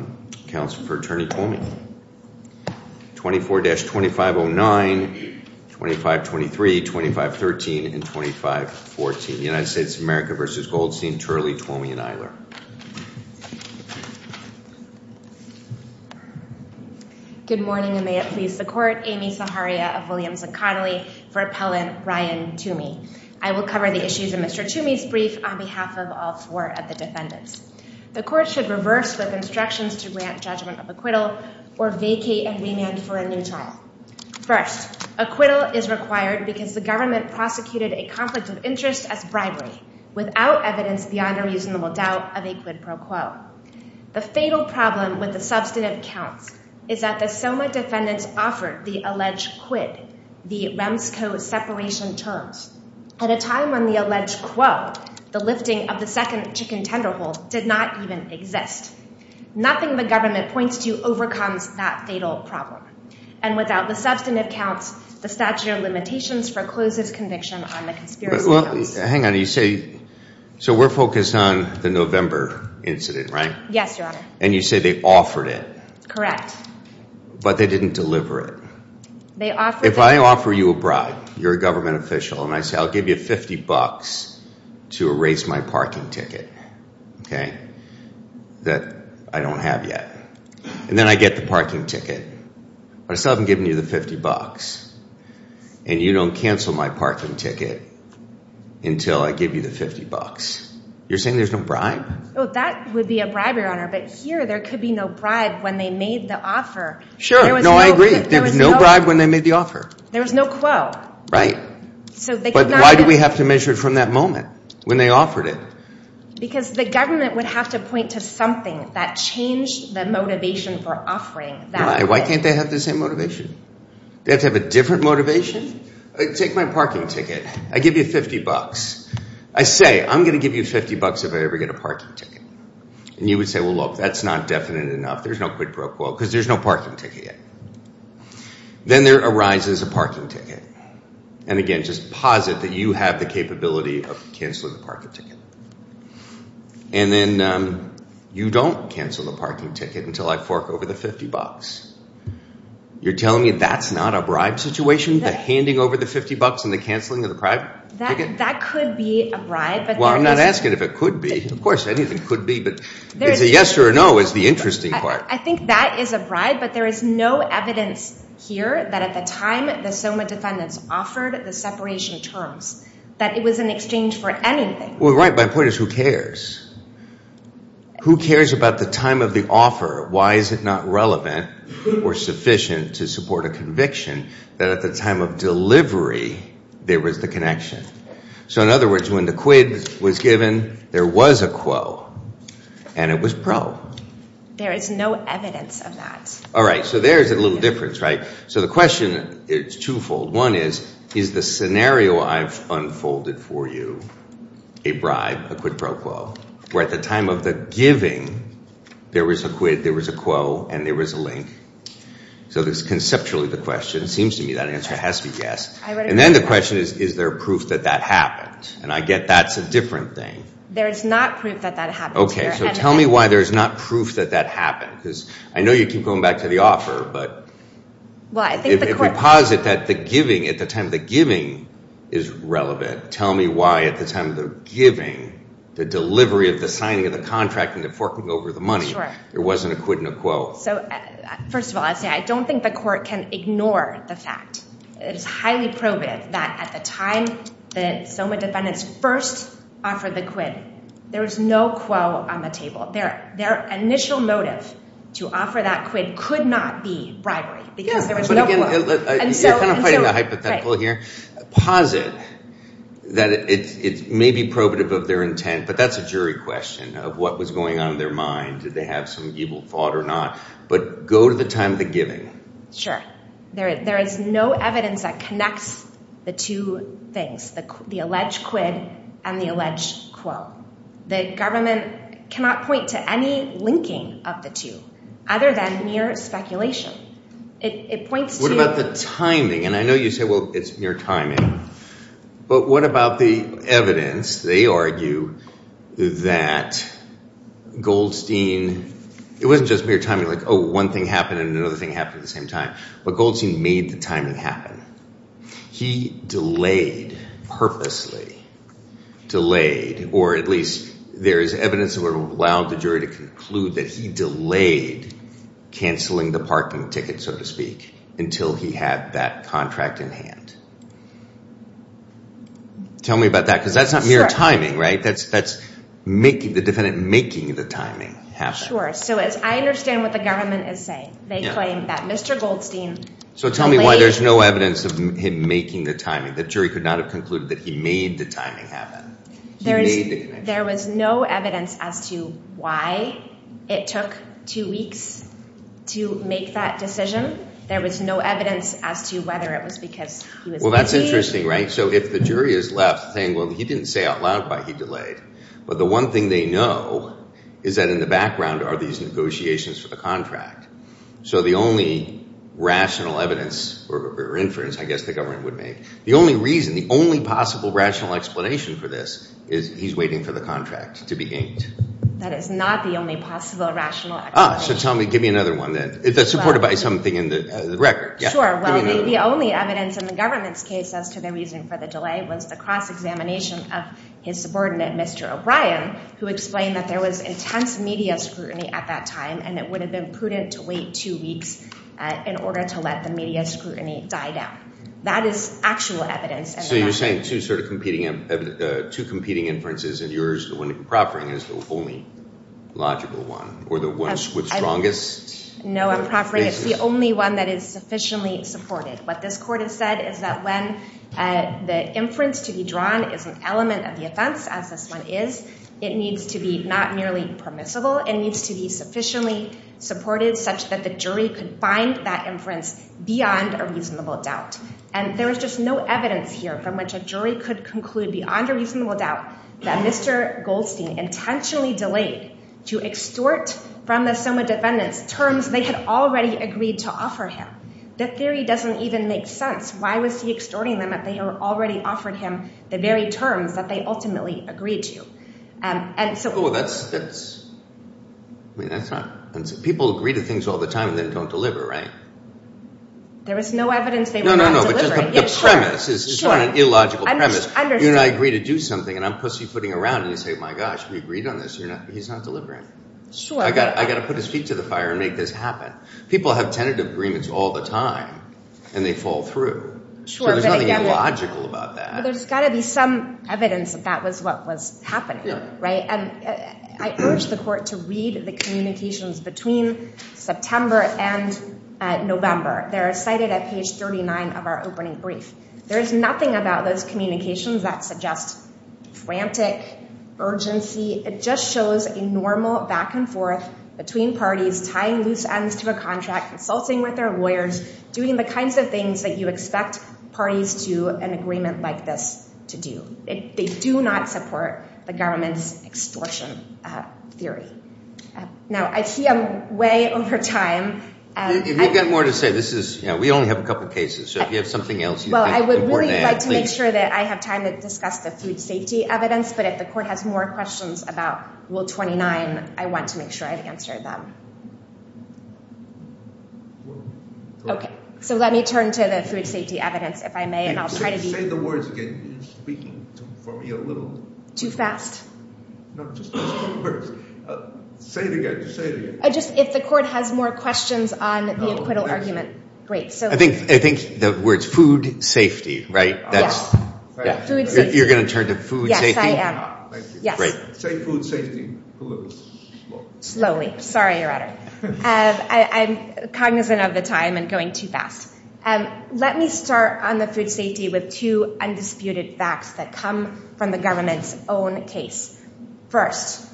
24-2509, 2523, 2513, and 2514. United States of America v. Goldstein, Turley, Twomey, and Eiler. Good morning and may it please the court. Amy Zaharia of Williams and Connolly for Appellant Ryan Toomey. I will cover the issues in Mr. Toomey's brief on behalf of all four of the grant judgment of acquittal or vacate and remand for a new trial. First, acquittal is required because the government prosecuted a conflict of interest as bribery without evidence beyond a reasonable doubt of a quid pro quo. The fatal problem with the substantive counts is that the SOMA defendants offered the alleged quid, the Remsco separation terms, at a time when the alleged quo, the lifting of the second chicken tender hole, did not even exist. Nothing the government points to overcomes that fatal problem and without the substantive counts, the statute of limitations forecloses conviction on the conspiracy. Well, hang on, you say, so we're focused on the November incident, right? Yes, your honor. And you say they offered it. Correct. But they didn't deliver it. They offered. If I offer you a bribe, you're a government official, and I say I'll give you 50 bucks to erase my parking ticket, okay, that I don't have yet. And then I get the parking ticket. But I still haven't given you the 50 bucks. And you don't cancel my parking ticket until I give you the 50 bucks. You're saying there's no bribe? Oh, that would be a bribe, your honor. But here there could be no bribe when they made the offer. Sure. No, I agree. There was no bribe when they made the offer. There was no quo. Right. But why do we have to measure it from that moment when they offered it? Because the government would have to point to something that changed the motivation for offering. Why can't they have the same motivation? They have to have a different motivation. Take my parking ticket. I give you 50 bucks. I say I'm going to give you 50 bucks if I ever get a parking ticket. And you would say, well, look, that's not definite enough. There's no quid pro quo because there's no parking ticket yet. Then there arises a parking ticket. And again, just posit that you have the capability of cancelling the parking ticket. And then you don't cancel the parking ticket until I fork over the 50 bucks. You're telling me that's not a bribe situation? The handing over the 50 bucks and the cancelling of the private ticket? That could be a bribe. Well, I'm not asking if it could be. Of course anything could be. But is it yes or no is the interesting part. I think that is a bribe. But there is no evidence here that at the time the SOMA defendants offered the separation terms, that it was an exchange for anything. Well, right, my point is who cares? Who cares about the time of the offer? Why is it not relevant or sufficient to support a conviction that at the time of delivery there was the connection? So in other words, when the quid was given, there was a quo. And it was pro. There is no evidence of that. All right, so there's a little difference, right? So the question is twofold. One is, is the scenario I've unfolded for you a bribe, a quid pro quo, where at the time of the giving there was a quid, there was a quo, and there was a link? So that's conceptually the question. It seems to me that answer has to be yes. And then the question is, is there proof that that happened? And I get that's a different thing. There is not proof that that happened. Okay, so tell me why there's not proof that that happened. Because I know you keep going back to the offer, but if we posit that the giving, at the time the giving is relevant, tell me why at the time of the giving, the delivery of the signing of the contract and the forking over the money, there wasn't a quid and a quo. So first of all, I'd say the court can ignore the fact. It is highly probative that at the time the SOMA defendants first offered the quid, there was no quo on the table. Their initial motive to offer that quid could not be bribery because there was no quo. But again, you're kind of fighting the hypothetical here. Posit that it may be probative of their intent, but that's a jury question of what was on their mind. Did they have some evil thought or not? But go to the time of the giving. Sure. There is no evidence that connects the two things, the alleged quid and the alleged quo. The government cannot point to any linking of the two other than mere speculation. It points to... What about the timing? And I know you say, well, it's mere timing, but what about the evidence? They argue that Goldstein, it wasn't just mere timing, like, oh, one thing happened and another thing happened at the same time, but Goldstein made the timing happen. He delayed, purposely delayed, or at least there is evidence that would have allowed the jury to conclude that he delayed canceling the parking ticket, so to speak, until he had that contract in hand. Tell me about that because that's not mere timing, right? That's the defendant making the timing happen. Sure. So I understand what the government is saying. They claim that Mr. Goldstein... So tell me why there's no evidence of him making the timing. The jury could not have concluded that he made the timing happen. He made the connection. There was no evidence as to why it took two weeks to make that decision. There was no evidence as to whether it was because he was... Well, that's interesting, right? So if the jury is left saying, well, he didn't say out loud why he delayed, but the one thing they know is that in the background are these negotiations for the contract. So the only rational evidence or inference, I guess the government would make, the only reason, the only possible rational explanation for this is he's waiting for the contract to be inked. That is not the only possible rational explanation. So tell me, give me another one then that's supported by something in the record. Sure. Well, the only evidence in the government's case as to the reason for the delay was the cross-examination of his subordinate, Mr. O'Brien, who explained that there was intense media scrutiny at that time, and it would have been prudent to wait two weeks in order to let the media scrutiny die down. That is actual evidence. So you're saying two competing inferences, and yours, the one improvering, is the only logical one, or the one with strongest... No, improvering is the only one that is sufficiently supported. What this court has said is that when the inference to be drawn is an element of the offense, as this one is, it needs to be not merely permissible, it needs to be sufficiently supported such that the jury could find that inference beyond a reasonable doubt. And there is just no evidence here from which a jury could conclude beyond a reasonable doubt that Mr. Goldstein intentionally delayed to extort from the Soma defendants terms they had already agreed to offer him. The theory doesn't even make sense. Why was he extorting them if they had already offered him the very terms that they ultimately agreed to? People agree to things all the time and then don't deliver, right? There was no evidence they were not delivering. The premise is not an illogical premise. You and I agree to do something and I'm pussyfooting around and you say, my gosh, we agreed on this, he's not delivering. I got to put his feet to the fire and make this happen. People have tentative agreements all the time and they fall through. There's nothing illogical about that. There's got to be some evidence that that was what was happening, right? And I urge the court to read the communications between September and November. They're cited at page 39 of our opening brief. There's nothing about those communications that suggest frantic urgency. It just shows a normal back and forth between parties tying loose ends to a contract, consulting with their lawyers, doing the kinds of things that you expect parties to an agreement like this to do. They do not support the government's extortion theory. Now, I see I'm way over time. If you've got more to say, this is, you know, we only have a couple of cases. Well, I would really like to make sure that I have time to discuss the food safety evidence, but if the court has more questions about Rule 29, I want to make sure I've answered them. Okay. So let me turn to the food safety evidence, if I may. And I'll try to be- Say the words again. You're speaking for me a little- Too fast. No, just those two words. Say it again. Just say it again. Just if the court has more questions on the acquittal argument. I think the words food safety, right? You're going to turn to food safety? Yes, I am. Yes. Say food safety. Slowly. Sorry, Your Honor. I'm cognizant of the time and going too fast. Let me start on the food safety with two undisputed facts that come from the government's own case. First,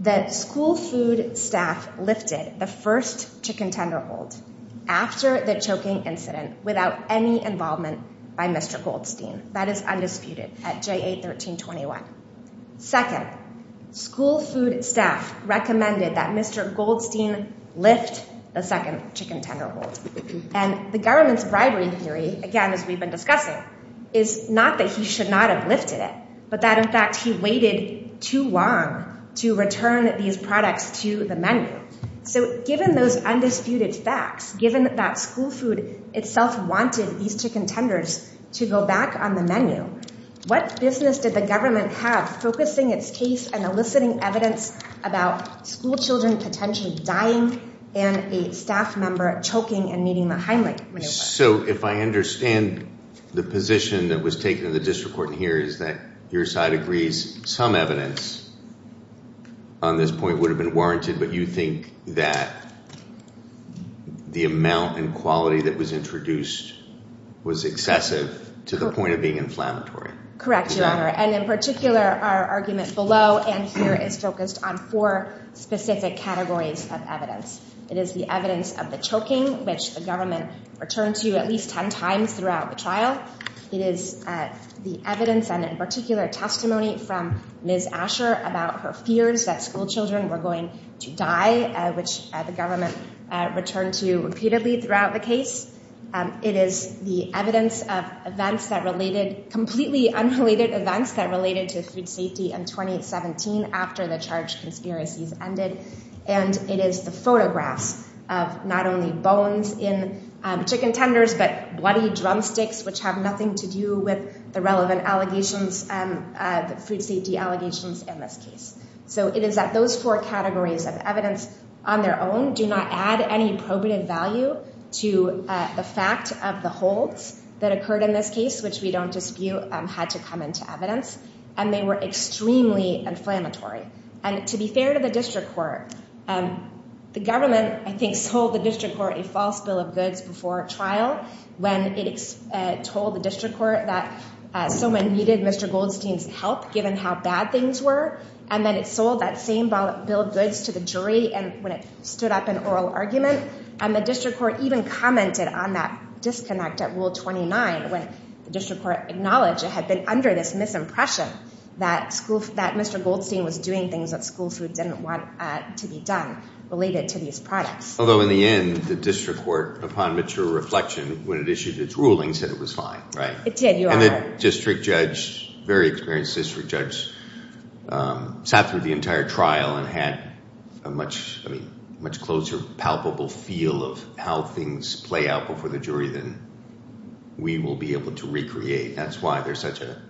the school food staff lifted the first chicken tenderhold after the choking incident without any involvement by Mr. Goldstein. That is undisputed at J8-1321. Second, school food staff recommended that Mr. Goldstein lift the second chicken tenderhold. And the government's bribery theory, again, as we've been discussing, is not that he should not have lifted it, but that, in fact, he waited too long to return these products to the menu. So given those undisputed facts, given that school food itself wanted these chicken tenders to go back on the menu, what business did the government have focusing its case and eliciting evidence about school children potentially dying and a staff member choking and meeting the Heimlich maneuver? So if I understand, the position that was taken in the district court in here is that your side agrees some evidence on this point would have been warranted, but you think that the amount and quality that was introduced was excessive to the point of being inflammatory? Correct, Your Honor. And in particular, our argument below and here is focused on four specific categories of evidence. It is the evidence of the choking, which the government returned to at least 10 times throughout the trial. It is the evidence and, in particular, testimony from Ms. Asher about her fears that school children were going to die, which the government returned to repeatedly throughout the case. It is the evidence of events that related, completely unrelated events that related to food safety in 2017 after the charge conspiracies ended. And it is the photographs of not only bones in chicken tenders, but bloody drumsticks, which have nothing to do with the relevant allegations, the food safety allegations in this case. So it is that those four categories of evidence on their own do not add any probative value to the fact of the holds that occurred in this case, which we don't dispute had to come into evidence. And they were extremely inflammatory. And to be fair to the district court, the government, I think, sold the district court a false bill of goods before trial when it told the district court that someone needed Mr. Goldstein's help given how bad things were. And then it sold that same bill of goods to the jury when it stood up an oral argument. And the district court even commented on that disconnect at Rule 29, when the district court acknowledged it had been under this misimpression that Mr. Goldstein was doing things that school food didn't want to be done related to these products. Although, in the end, the district court, upon mature reflection, when it issued its ruling, said it was fine, right? It did, Your Honor. And the district judge, very experienced district judge, sat through the entire trial and had a much closer palpable feel of how things play out before the jury than we will be able to recreate. That's why there's such a,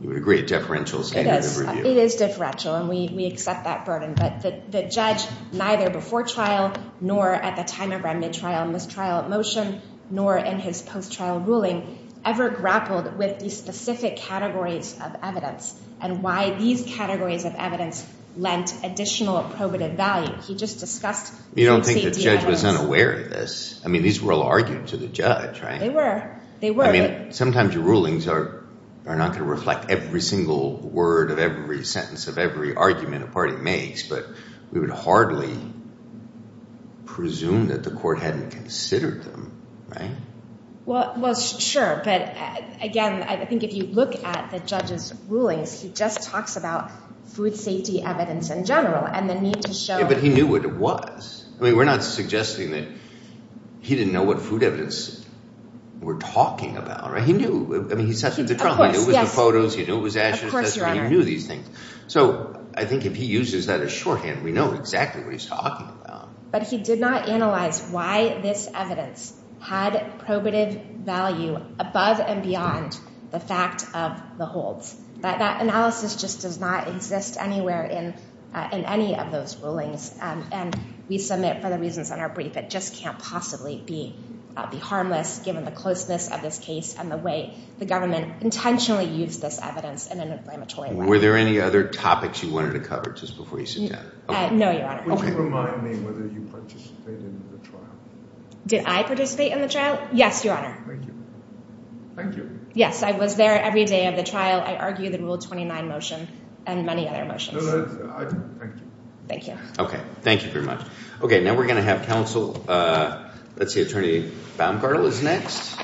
you would agree, a deferential standard of review. It is deferential. And we accept that burden. But the judge, neither before trial, nor at the time of remnant trial, mistrial at motion, nor in his post-trial ruling, ever grappled with these specific categories of evidence and why these categories of evidence lent additional probative value. He just discussed the safety of evidence. You don't think the judge was unaware of this? I mean, these were all argued to the judge, right? They were. They were. I mean, sometimes your rulings are not going to reflect every single word of every sentence of every argument a party makes. But we would hardly presume that the court hadn't considered them, right? Well, sure. But again, I think if you look at the judge's rulings, he just talks about food safety evidence in general and the need to show... Yeah, but he knew what it was. I mean, we're not suggesting that he didn't know what food evidence we're talking about, right? He knew. I mean, he sat through the trial. Of course, yes. He knew it was the photos. He knew it was ashes. Of course, Your Honor. He knew these things. So I think if he uses that as shorthand, we know exactly what he's talking about. But he did not analyze why this evidence had probative value above and beyond the fact of the holds. That analysis just does not exist anywhere in any of those rulings. And we submit, for the reasons in our brief, it just can't possibly be harmless, given the closeness of this case and the way the government intentionally used this evidence in an inflammatory way. Were there any other topics you wanted to cover, just before you sit down? No, Your Honor. Would you remind me whether you participated in the trial? Did I participate in the trial? Yes, Your Honor. Thank you. Thank you. Yes, I was there every day of the trial. I argue the Rule 29 motion and many other motions. No, no, I do. Thank you. Thank you. OK, thank you very much. OK, now we're going to have counsel. Let's see, Attorney Baumgartel is next.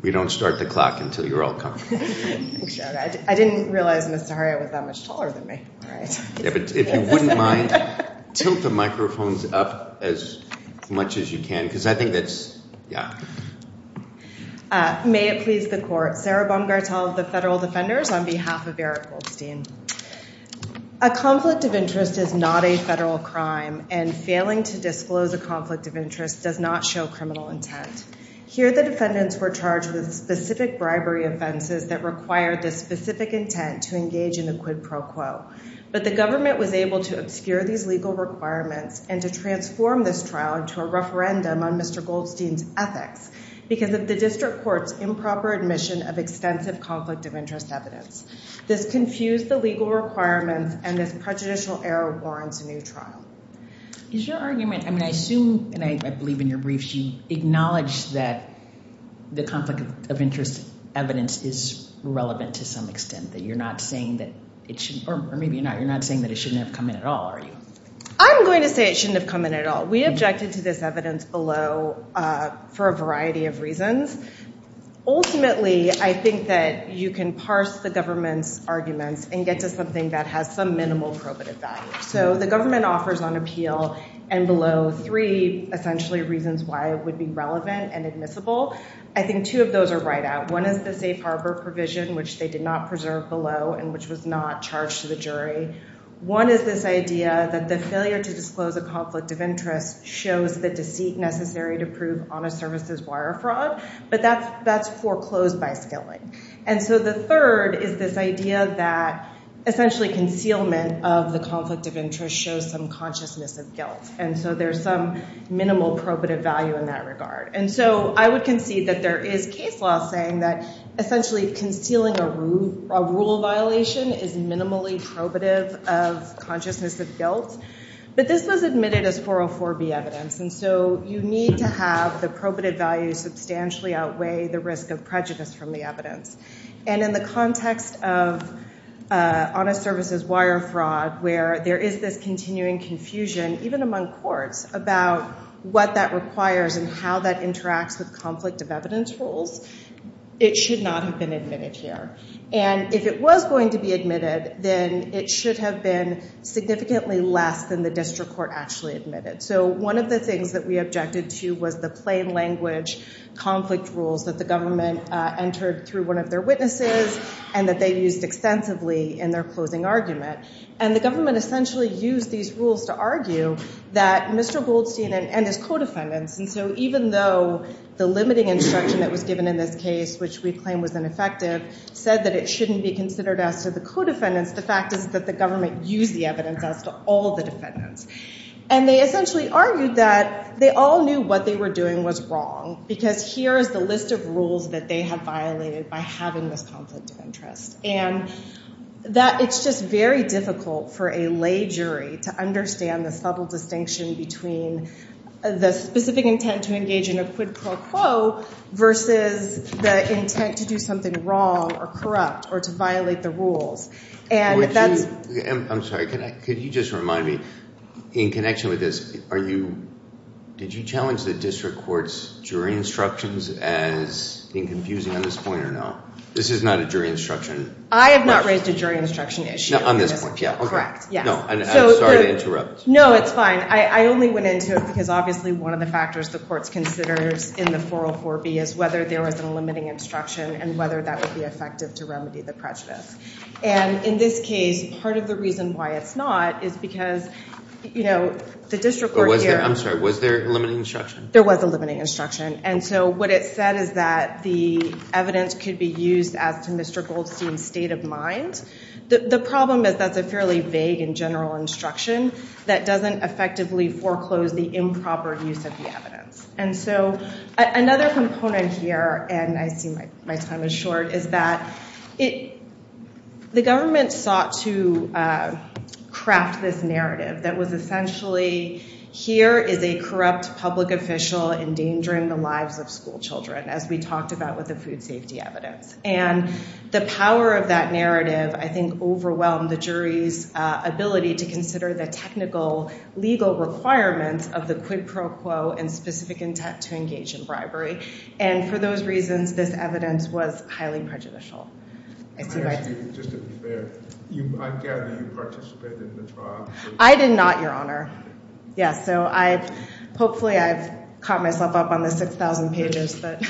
We don't start the clock until you're all comfortable. I didn't realize Mr. Harriot was that much taller than me. Yeah, but if you wouldn't mind, tilt the microphones up as much as you can. Because I think that's, yeah. May it please the Court, Sarah Baumgartel of the Federal Defenders, on behalf of Eric Goldstein. A conflict of interest is not a federal crime, and failing to disclose a conflict of interest does not show criminal intent. Here, the defendants were charged with specific bribery offenses that required this specific intent to engage in the quid pro quo. But the government was able to obscure these legal requirements and to transform this trial into a referendum on Mr. Goldstein's ethics because of the district court's improper admission of extensive conflict of interest evidence. This confused the legal requirements, and this prejudicial error warrants a new trial. Is your argument, I mean, I assume, and I believe in your briefs, you acknowledge that the conflict of interest evidence is relevant to some extent, that you're not saying that it should, or maybe you're not saying that it shouldn't have come in at all, are you? I'm going to say it shouldn't have come in at all. We objected to this evidence below for a variety of reasons. Ultimately, I think that you can parse the government's arguments and get to something that has some minimal probative value. So the government offers on appeal and below three, essentially, reasons why it would be relevant and admissible. I think two of those are right out. One is the safe harbor provision, which they did not preserve below and which was not charged to the jury. One is this idea that the failure to disclose a conflict of interest shows the deceit necessary to prove honest services wire fraud. But that's foreclosed by skilling. And so the third is this idea that essentially concealment of the conflict of interest shows some consciousness of guilt. And so there's some minimal probative value in that regard. And so I would concede that there is case law saying that essentially concealing a rule violation is minimally probative of consciousness of guilt. But this was admitted as 404B evidence. And so you need to have the probative value substantially outweigh the risk of prejudice from the evidence. And in the context of honest services wire fraud, where there is this continuing confusion, even among courts, about what that requires and how that interacts with conflict of evidence rules, it should not have been admitted here. And if it was going to be admitted, then it should have been significantly less than the district court actually admitted. So one of the things that we objected to was the plain language conflict rules that the government entered through one of their witnesses and that they used extensively in their closing argument. And the government essentially used these rules to argue that Mr. Goldstein and his co-defendants. And so even though the limiting instruction that was given in this case, which we claim was ineffective, said that it shouldn't be considered as to the co-defendants, the fact is that the government used the evidence as to all the defendants. And they essentially argued that they all knew what they were doing was wrong, because here is the list of rules that they have violated by having this conflict of interest. And that it's just very difficult for a lay jury to understand the subtle distinction between the specific intent to engage in a quid pro quo versus the intent to do something wrong or corrupt or to violate the rules. And that's... I'm sorry, could you just remind me, in connection with this, are you... Did you challenge the district court's jury instructions as being confusing on this point or no? This is not a jury instruction... I have not raised a jury instruction issue. On this point, yeah. Correct, yes. No, I'm sorry to interrupt. No, it's fine. I only went into it because obviously one of the factors the courts considers in the 404B is whether there was a limiting instruction and whether that would be effective to remedy the prejudice. And in this case, part of the reason why it's not is because the district court here... I'm sorry, was there a limiting instruction? There was a limiting instruction. And so what it said is that the evidence could be used as to Mr. Goldstein's state of mind. The problem is that's a fairly vague and general instruction that doesn't effectively foreclose the improper use of the evidence. And so another component here, and I see my time is short, is that the government sought to craft this narrative that was essentially, here is a corrupt public official endangering the lives of school children, as we talked about with the food safety evidence. And the power of that narrative, I think, overwhelmed the jury's ability to consider the technical, legal requirements of the quid pro quo and specific intent to engage in bribery. And for those reasons, this evidence was highly prejudicial. I see my time... Just to be fair, I gather you participated in the trial. I did not, Your Honor. Yes, so hopefully I've caught myself up on the 6,000 pages, but...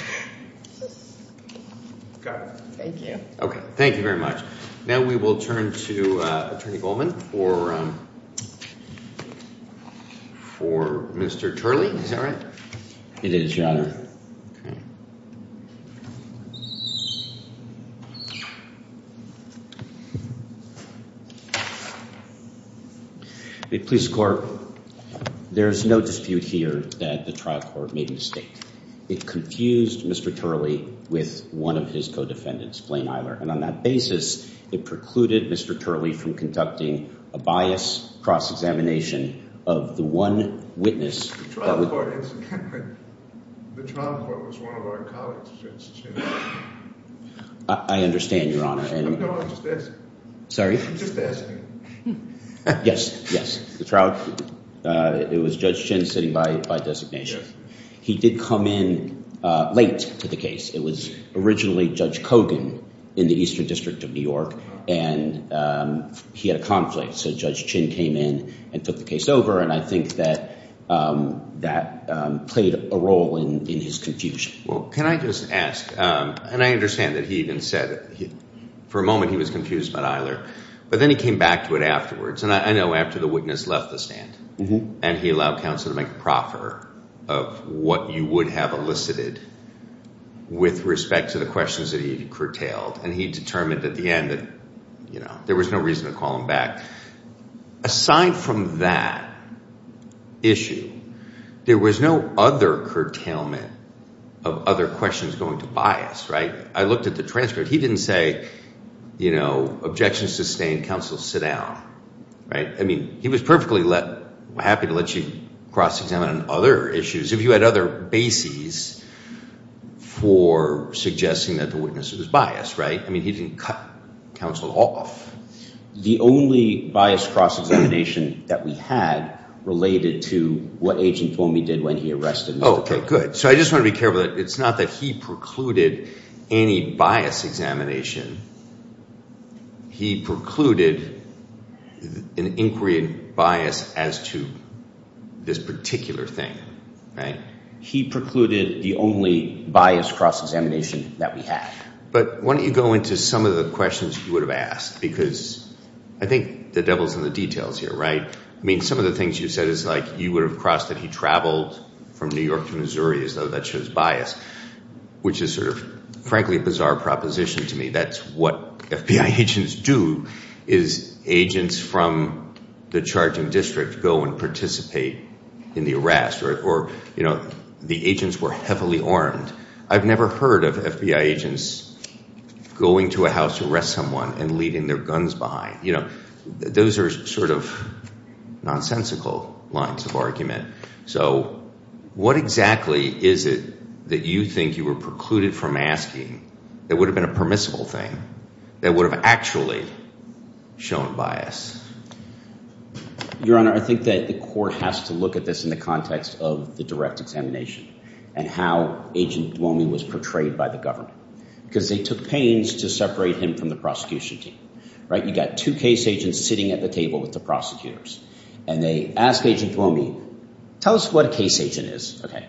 Got it. Thank you. Okay. Thank you very much. Now we will turn to Attorney Goldman for Mr. Turley. Is that right? It is, Your Honor. The police court, there is no dispute here that the trial court made a mistake. It confused Mr. Turley with one of his co-defendants, Blaine Eiler. And on that basis, it precluded Mr. Turley from conducting a bias cross-examination of the one witness... The trial court was one of our colleagues, Judge Chin. I understand, Your Honor. No, I'm just asking. Sorry? I'm just asking. Yes, yes. The trial... It was Judge Chin sitting by designation. He did come in late to the case. It was originally Judge Kogan in the Eastern District of New York, and he had a conflict. So Judge Chin came in and took the case over. And I think that that played a role in his confusion. Well, can I just ask, and I understand that he even said for a moment he was confused about Eiler, but then he came back to it afterwards. And I know after the witness left the stand and he allowed counsel to make a proffer of what you would have elicited with respect to the questions that he curtailed, and he determined at the end that there was no reason to call him back. Aside from that issue, there was no other curtailment of other questions going to bias, right? I looked at the transcript. He didn't say, you know, objections sustained, counsel sit down, right? I mean, he was perfectly happy to let you cross-examine on other issues. If you had other bases for suggesting that the witness was biased, right? I mean, he didn't cut counsel off. The only bias cross-examination that we had related to what Agent Fomey did when he arrested Mr. Cook. Oh, okay, good. So I just want to be careful that it's not that he precluded any bias examination. He precluded an inquiry and bias as to this particular thing. Right? He precluded the only bias cross-examination that we had. But why don't you go into some of the questions you would have asked? Because I think the devil's in the details here, right? I mean, some of the things you said is like, you would have crossed that he traveled from New York to Missouri as though that shows bias, which is sort of, frankly, a bizarre proposition to me. That's what FBI agents do, is agents from the charging district go and participate in the arrest or, you know, the agents were heavily armed. I've never heard of FBI agents going to a house to arrest someone and leaving their guns behind. You know, those are sort of nonsensical lines of argument. So what exactly is it that you think you were precluded from asking that would have been a permissible thing that would have actually shown bias? Your Honor, I think that the court has to look at this in the context of the direct examination and how Agent Duomi was portrayed by the government. Because they took pains to separate him from the prosecution team. Right? You got two case agents sitting at the table with the prosecutors. And they ask Agent Duomi, tell us what a case agent is. Okay.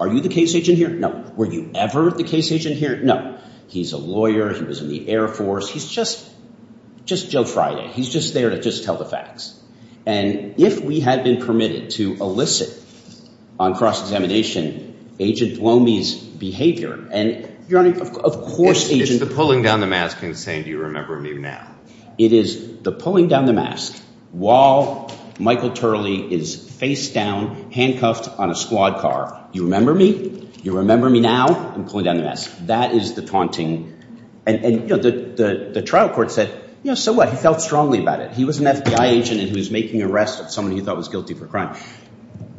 Are you the case agent here? No. Were you ever the case agent here? No. He's a lawyer. He was in the Air Force. He's just Joe Friday. He's just there to just tell the facts. And if we had been permitted to elicit on cross-examination, Agent Duomi's behavior. And, Your Honor, of course, Agent... It's the pulling down the mask and saying, do you remember me now? It is the pulling down the mask while Michael Turley is face down, handcuffed on a squad car. You remember me? You remember me now? And pulling down the mask. That is the taunting. And, you know, the trial court said, you know, so what? He felt strongly about it. He was an FBI agent and he was making arrest of someone he thought was guilty for crime.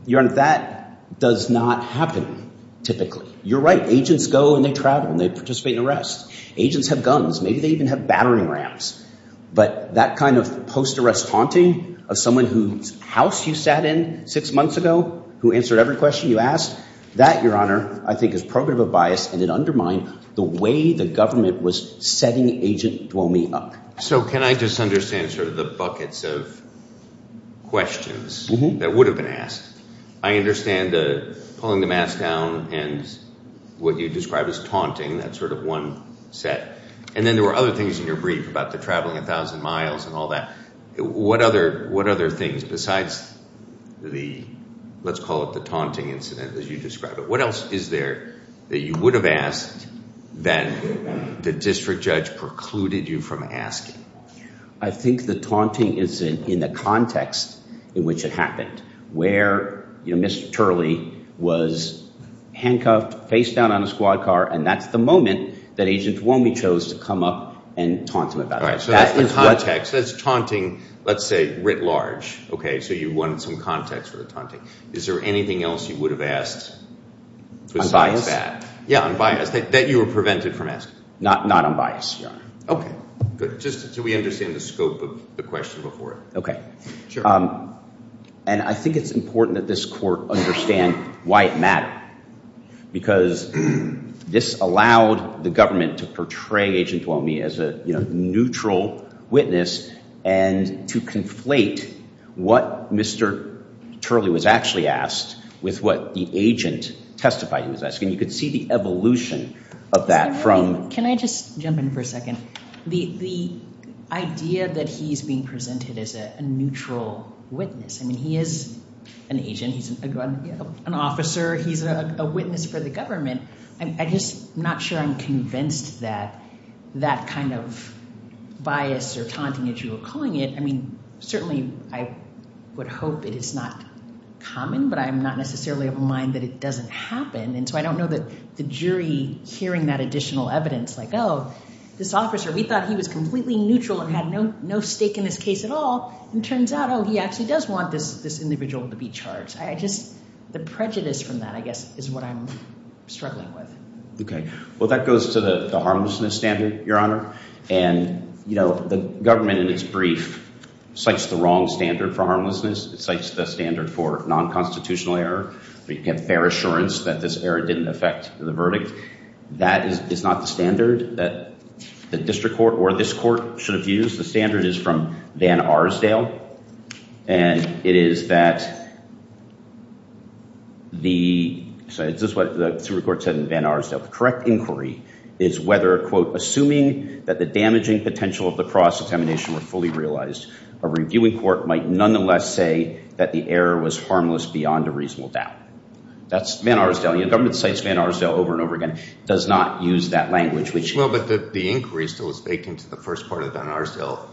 Your Honor, that does not happen typically. You're right. Agents go and they travel and they participate in arrests. Agents have guns. Maybe they even have battering rams. But that kind of post-arrest taunting of someone whose house you sat in six months ago who answered every question you asked, that, Your Honor, I think is probative of bias and it undermined the way the government was setting Agent Duomi up. So can I just understand sort of the buckets of questions that would have been asked? I understand the pulling the mask down and what you described as taunting. That's sort of one set. And then there were other things in your brief about the traveling a thousand miles and all that. What other, what other things besides the, let's call it the taunting incident as you describe it, what else is there that you would have asked that the district judge precluded you from asking? I think the taunting is in the context in which it happened where, you know, Mr. Turley was handcuffed, face down on a squad car. And that's the moment that Agent Duomi chose to come up and taunt him about it. All right. So that's the context. That's taunting, let's say, writ large. Okay. So you wanted some context for the taunting. Is there anything else you would have asked besides that? Yeah, unbiased. That you were prevented from asking. Not unbiased, Your Honor. Okay, good. Just so we understand the scope of the question before it. And I think it's important that this court understand why it mattered. Because this allowed the government to portray Agent Duomi as a, you know, neutral witness and to conflate what Mr. Turley was actually asked with what the agent testified he was asking. You could see the evolution of that from... Can I just jump in for a second? The idea that he's being presented as a neutral witness. I mean, he is an agent. He's an officer. He's a witness for the government. I'm just not sure I'm convinced that that kind of bias or taunting, as you were calling it. I mean, certainly I would hope that it's not common, but I'm not necessarily of the mind that it doesn't happen. And so I don't know that the jury hearing that additional evidence like, oh, this officer, we thought he was completely neutral and had no stake in this case at all. It turns out, oh, he actually does want this individual to be charged. I just... The prejudice from that, I guess, is what I'm struggling with. Okay. Well, that goes to the harmlessness standard, Your Honor. And, you know, the government in its brief cites the wrong standard for harmlessness. It cites the standard for non-constitutional error. We can have fair assurance that this error didn't affect the verdict. That is not the standard that the district court or this court should have used. The standard is from Van Arsdale. And it is that the... So this is what the Supreme Court said in Van Arsdale. The correct inquiry is whether, quote, assuming that the damaging potential of the cross-examination were fully realized, a reviewing court might nonetheless say that the error was harmless beyond a reasonable doubt. That's Van Arsdale. You know, government cites Van Arsdale over and over again. It does not use that language, which... Well, but the inquiry still is baked into the first part of the Van Arsdale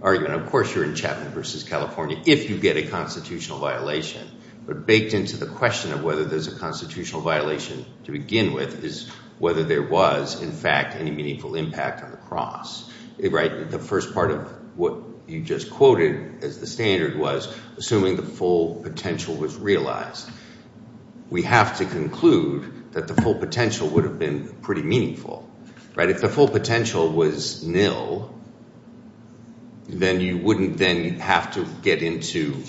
argument. Of course, you're in Chapman v. California if you get a constitutional violation. But baked into the question of whether there's a constitutional violation to begin with is whether there was, in fact, any meaningful impact on the cross. Right? The first part of what you just quoted as the standard was assuming the full potential was realized. We have to conclude that the full potential would have been pretty meaningful. Right? If the full potential was nil, then you wouldn't then have to get into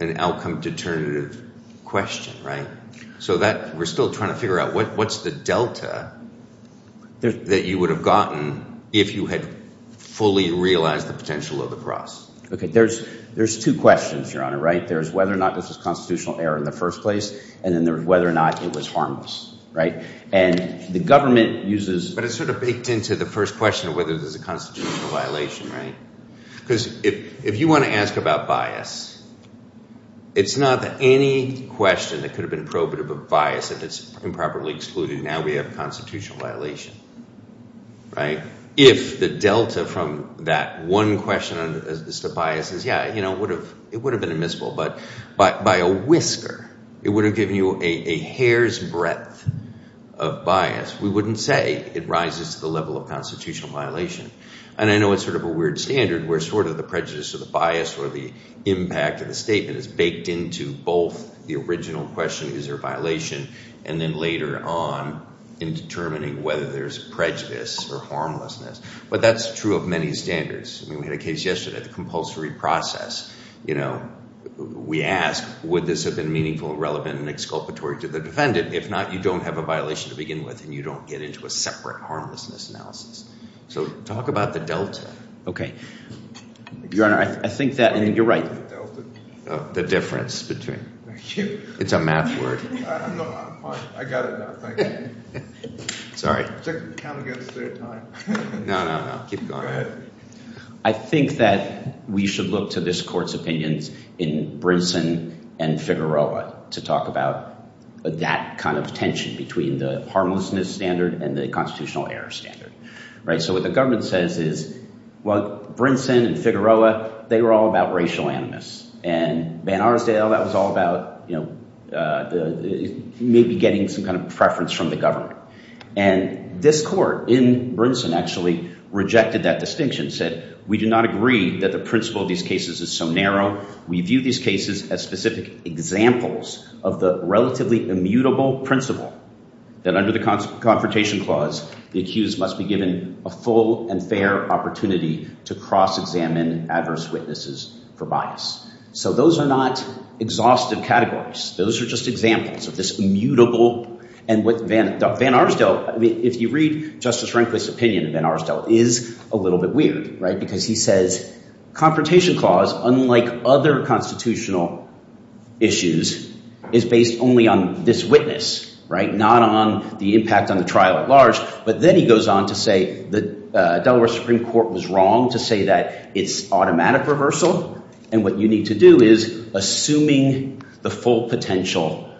an outcome determinative question. Right? So we're still trying to figure out what's the delta that you would have gotten if you had fully realized the potential of the cross. OK. There's two questions, Your Honor. Right? There's whether or not this was a constitutional error in the first place, and then there's whether or not it was harmless. And the government uses... But it's sort of baked into the first question of whether there's a constitutional violation. Right? Because if you want to ask about bias, it's not that any question that could have been probative of bias, if it's improperly excluded, now we have a constitutional violation. Right? If the delta from that one question as to bias is, yeah, you know, it would have been admissible, but by a whisker, it would have given you a hair's breadth of bias. We wouldn't say it rises to the level of constitutional violation. And I know it's sort of a weird standard where sort of the prejudice or the bias or the impact of the statement is baked into both the original question, is there a violation, and then later on in determining whether there's prejudice or harmlessness. But that's true of many standards. I mean, we had a case yesterday, the compulsory process, you know, we asked, would this have been meaningful and relevant and exculpatory to the defendant? If not, you don't have a violation to begin with, and you don't get into a separate harmlessness analysis. So talk about the delta. Your Honor, I think that you're right. The difference between... Thank you. It's a math word. I got it now, thank you. Sorry. It's like counting against their time. No, no, no. Keep going. Go ahead. I think that we should look to this court's opinions in Brinson and Figueroa to talk about that kind of tension between the harmlessness standard and the constitutional error standard, right? So what the government says is, well, Brinson and Figueroa, they were all about racial animus, and Banarsdale, that was all about, you know, maybe getting some kind of preference from the government. And this court in Brinson actually rejected that distinction, said, we do not agree that the principle of these cases is so narrow. We view these cases as specific examples of the relatively immutable principle that under the Confrontation Clause, the accused must be given a full and fair opportunity to cross-examine adverse witnesses for bias. So those are not exhaustive categories. Those are just examples of this immutable, and what Banarsdale, I mean, if you read Justice Rehnquist's opinion of Banarsdale, it is a little bit weird, right? Because he says Confrontation Clause, unlike other constitutional issues, is based only on this witness, right? Not on the impact on the trial at large. But then he goes on to say the Delaware Supreme Court was wrong to say that it's automatic reversal, and what you need to do is assuming the full potential,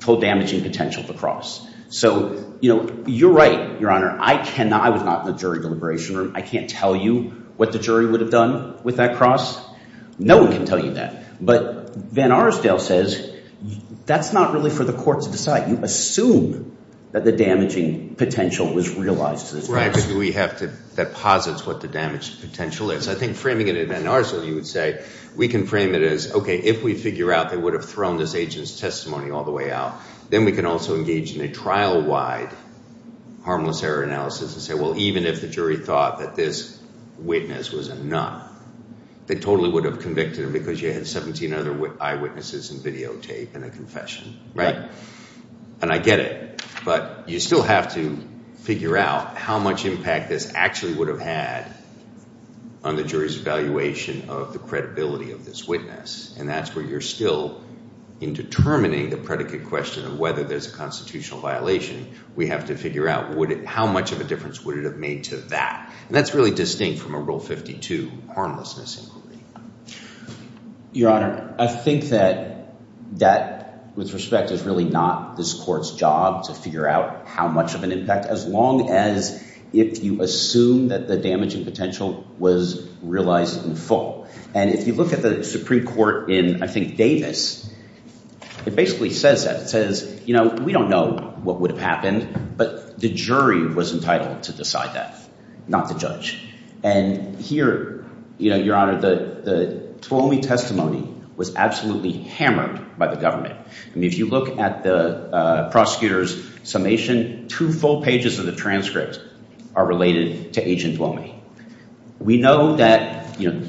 full damaging potential to cross. So, you know, you're right, Your Honor. I cannot, I was not in the jury deliberation room. I can't tell you what the jury would have done with that cross. No one can tell you that. But Banarsdale says that's not really for the court to decide. You assume that the damaging potential was realized. Right, because we have to, that posits what the damaged potential is. I think framing it in Banarsdale, you would say, we can frame it as, okay, if we figure out they would have thrown this agent's testimony all the way out, then we can also engage in a trial-wide harmless error analysis and say, well, even if the jury thought that this witness was a nut, they totally would have convicted him because you had 17 other eyewitnesses and videotape and a confession, right? And I get it, but you still have to figure out how much impact this actually would have had on the jury's evaluation of the credibility of this witness. And that's where you're still in determining the predicate question of whether there's a constitutional violation. We have to figure out how much of a difference would it have made to that. And that's really distinct from a Rule 52 harmlessness inquiry. Your Honor, I think that that, with respect, is really not this court's job to figure out how much of an impact, as long as if you assume that the damaging potential was realized in full. And if you look at the Supreme Court in, I think, Davis, it basically says that. It says, you know, we don't know what would have happened, but the jury was entitled to decide that, not the judge. And here, you know, Your Honor, the Twomey testimony was absolutely hammered by the government. I mean, if you look at the prosecutor's summation, two full pages of the transcript are related to Agent Twomey. We know that, you know,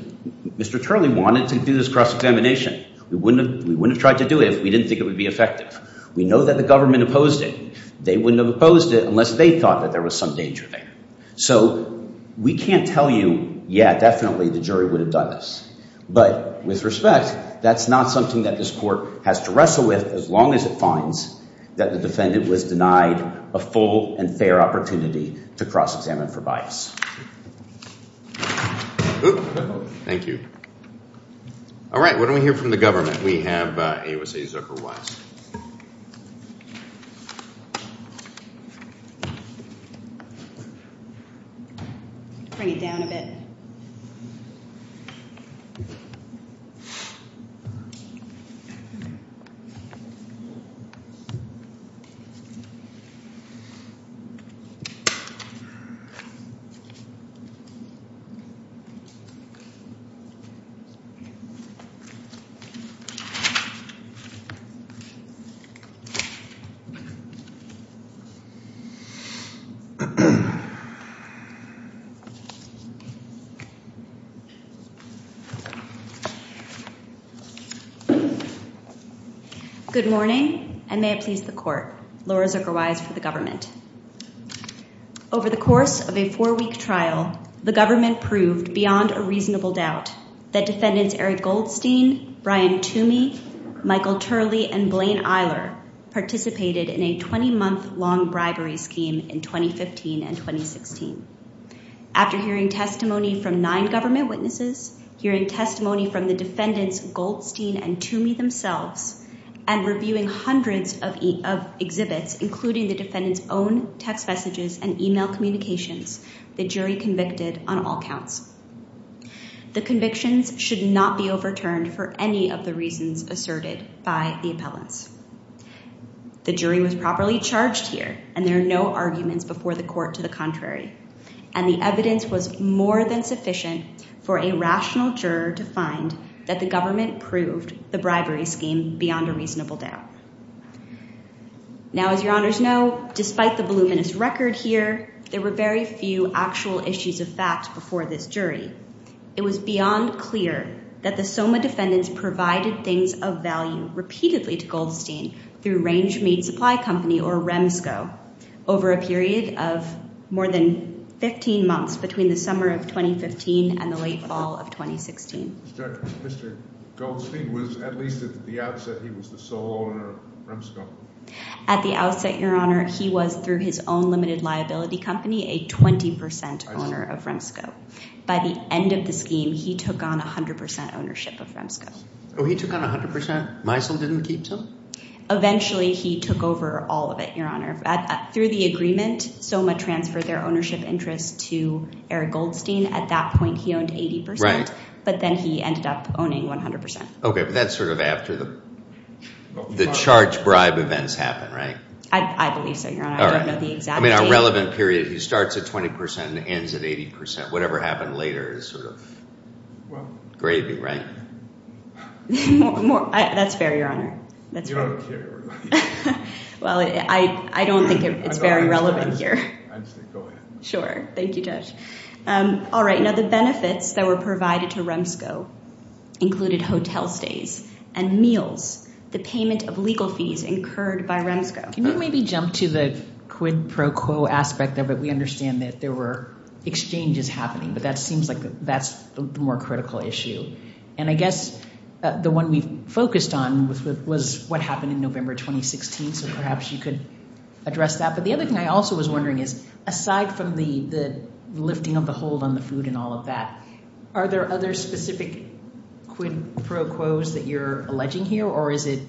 Mr. Turley wanted to do this cross-examination. We wouldn't have tried to do it if we didn't think it would be effective. We know that the government opposed it. They wouldn't have opposed it unless they thought that there was some danger there. So we can't tell you, yeah, definitely the jury would have done this. But with respect, that's not something that this court has to wrestle with as long as it finds that the defendant was denied a full and fair opportunity to cross-examine for Thank you. All right. What do we hear from the government? We have AOC Zuckerweis. Bring it down a bit. Good morning, and may it please the court. Laura Zuckerweis for the government. Over the course of a four-week trial, the government proved beyond a reasonable doubt that defendants Eric Goldstein, Brian Twomey, Michael Turley, and Blaine Eiler participated in a 20-month-long bribery scheme in 2015 and 2016. After hearing testimony from nine government witnesses, hearing testimony from the defendants Goldstein and Twomey themselves, and reviewing hundreds of exhibits, including the defendant's own text messages and email communications, the jury convicted on all counts. The convictions should not be overturned for any of the reasons asserted by the appellants. The jury was properly charged here, and there are no arguments before the court to the contrary. The evidence was more than sufficient for a rational juror to find that the government proved the bribery scheme beyond a reasonable doubt. Now, as your honors know, despite the voluminous record here, there were very few actual issues of fact before this jury. It was beyond clear that the SOMA defendants provided things of value repeatedly to Goldstein through Range Mead Supply Company, or REMSCO, over a period of more than 15 months between the summer of 2015 and the late fall of 2016. Mr. Goldstein was, at least at the outset, he was the sole owner of REMSCO. At the outset, your honor, he was, through his own limited liability company, a 20% owner of REMSCO. By the end of the scheme, he took on 100% ownership of REMSCO. Oh, he took on 100%? Meisel didn't keep some? Eventually, he took over all of it, your honor. Through the agreement, SOMA transferred their ownership interest to Eric Goldstein. At that point, he owned 80%. Right. But then he ended up owning 100%. Okay, but that's sort of after the charge bribe events happened, right? I believe so, your honor. I don't know the exact date. I mean, a relevant period, he starts at 20% and ends at 80%. Whatever happened later is sort of gravy, right? More, that's fair, your honor. You don't care, right? Well, I don't think it's very relevant here. Sure. Thank you, Judge. All right. Now, the benefits that were provided to REMSCO included hotel stays and meals, the payment of legal fees incurred by REMSCO. Can you maybe jump to the quid pro quo aspect of it? We understand that there were exchanges happening, but that seems like that's the more critical issue. And I guess the one we focused on was what happened in November 2016. So perhaps you could address that. But the other thing I also was wondering is, aside from the lifting of the hold on the food and all of that, are there other specific quid pro quos that you're alleging here? Or is it,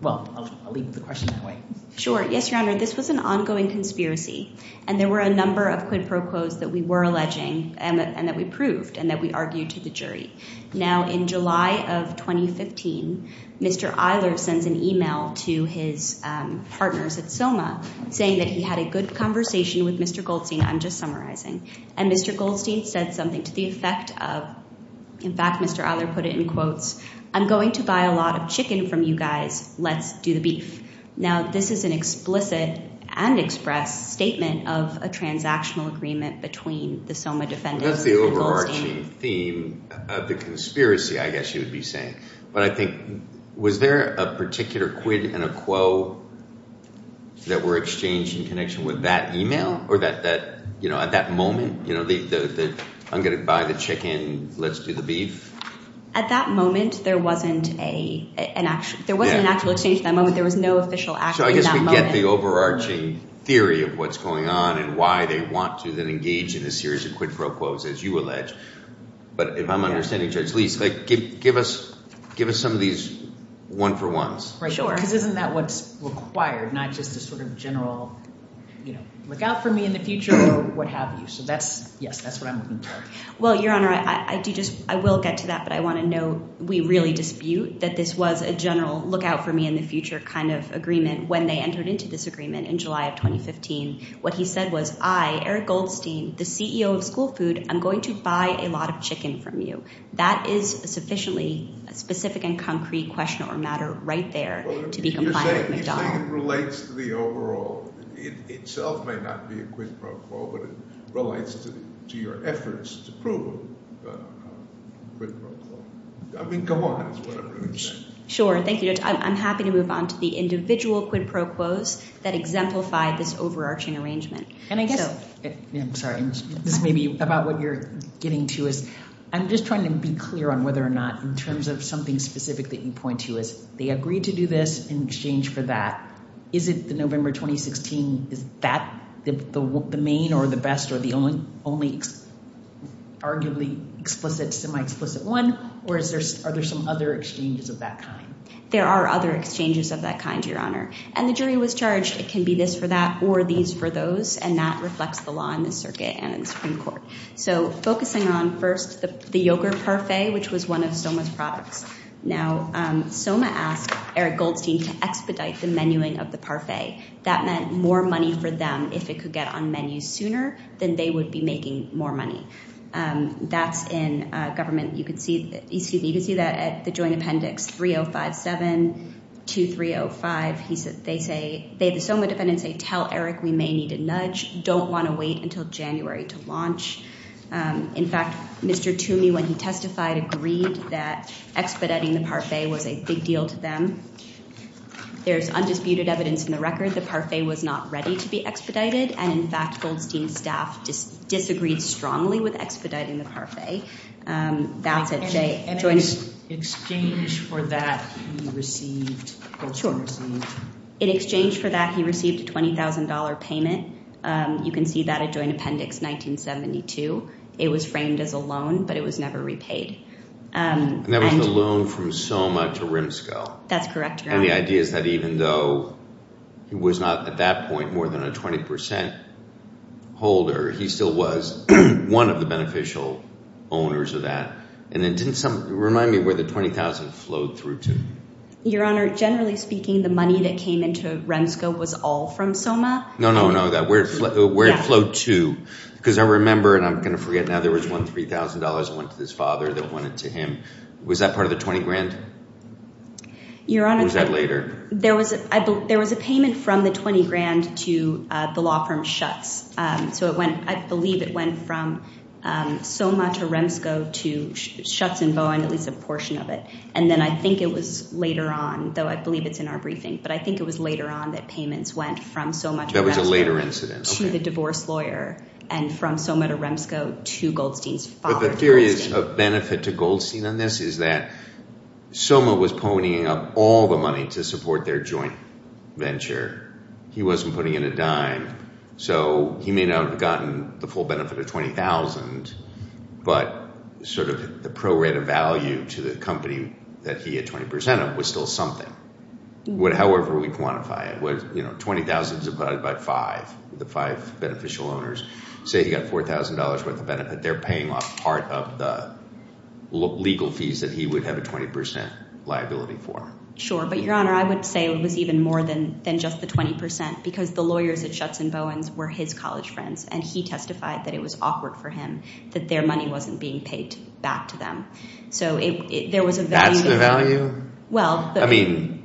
well, I'll leave the question that way. Sure. Yes, your honor. This was an ongoing conspiracy. And there were a number of quid pro quos that we were alleging and that we proved and that we argued to the jury. Now, in July of 2015, Mr. Eiler sends an email to his partners at SOMA saying that he had a good conversation with Mr. Goldstein. I'm just summarizing. And Mr. Goldstein said something to the effect of, in fact, Mr. Eiler put it in quotes, I'm going to buy a lot of chicken from you guys. Let's do the beef. Now, this is an explicit and express statement of a transactional agreement between the SOMA defendants and Goldstein. This is an overarching theme of the conspiracy, I guess you would be saying. But I think, was there a particular quid and a quo that were exchanged in connection with that email or that, you know, at that moment, you know, I'm going to buy the chicken, let's do the beef? At that moment, there wasn't an actual exchange at that moment. There was no official action at that moment. So I guess we get the overarching theory of what's going on and why they want to then engage in a series of quid pro quos, as you allege. But if I'm understanding, Judge Lee, give us some of these one for ones. Right. Sure. Because isn't that what's required? Not just a sort of general, you know, look out for me in the future or what have you. So that's, yes, that's what I'm looking for. Well, Your Honor, I do just, I will get to that. But I want to note, we really dispute that this was a general look out for me in the future kind of agreement when they entered into this agreement in July of 2015. What he said was, I, Eric Goldstein, the CEO of School Food, I'm going to buy a lot of chicken from you. That is a sufficiently specific and concrete question or matter right there to be compliant with McDonald. You're saying it relates to the overall, it itself may not be a quid pro quo, but it relates to your efforts to prove a quid pro quo. I mean, come on, that's what I'm really saying. Sure. Thank you, Judge. I'm happy to move on to the individual quid pro quos that exemplify this overarching arrangement. And I guess, I'm sorry, this may be about what you're getting to is, I'm just trying to be clear on whether or not in terms of something specific that you point to is, they agreed to do this in exchange for that. Is it the November 2016, is that the main or the best or the only arguably explicit, semi-explicit one? Or is there, are there some other exchanges of that kind? There are other exchanges of that kind, Your Honor. And the jury was charged. It can be this for that or these for those. And that reflects the law in the circuit and in the Supreme Court. So focusing on first the yogurt parfait, which was one of Soma's products. Now, Soma asked Eric Goldstein to expedite the menuing of the parfait. That meant more money for them if it could get on menu sooner than they would be making more money. That's in government. You could see, excuse me, you could see that at the joint appendix 3057-2305. He said, they say, they, the Soma defendants, they tell Eric, we may need a nudge. Don't want to wait until January to launch. In fact, Mr. Toomey, when he testified, agreed that expediting the parfait was a big deal to them. There's undisputed evidence in the record. The parfait was not ready to be expedited. And in fact, Goldstein's staff just disagreed strongly with expediting the parfait. That's at joint. And in exchange for that, he received. In exchange for that, he received a $20,000 payment. You can see that at joint appendix 1972. It was framed as a loan, but it was never repaid. And that was the loan from Soma to Rimscoe. That's correct. And the idea is that even though he was not, at that point, more than a 20% holder, he still was one of the beneficial owners of that. And then didn't some, remind me where the $20,000 flowed through to? Your Honor, generally speaking, the money that came into Rimscoe was all from Soma. No, no, no, where it flowed to, because I remember, and I'm going to forget, now there was one $3,000 that went to his father that went to him. Was that part of the 20 grand? Your Honor, there was a payment from the 20 grand to the law firm Schutz. So I believe it went from Soma to Rimscoe to Schutz and Bowen, at least a portion of it. And then I think it was later on, though I believe it's in our briefing, but I think it was later on that payments went from Soma to Rimscoe to the divorce lawyer, and from Soma to Rimscoe to Goldstein's father. The theory is of benefit to Goldstein on this is that Soma was ponying up all the money to support their joint venture. He wasn't putting in a dime. So he may not have gotten the full benefit of $20,000, but sort of the pro-rata value to the company that he had 20% of was still something. However we quantify it, $20,000 divided by five, the five beneficial owners. Say he got $4,000 worth of benefit. They're paying off part of the legal fees that he would have a 20% liability for. But Your Honor, I would say it was even more than just the 20%, because the lawyers at Schutz and Bowen's were his college friends, and he testified that it was awkward for him that their money wasn't being paid back to them. So there was a value- That's the value? Well- I mean,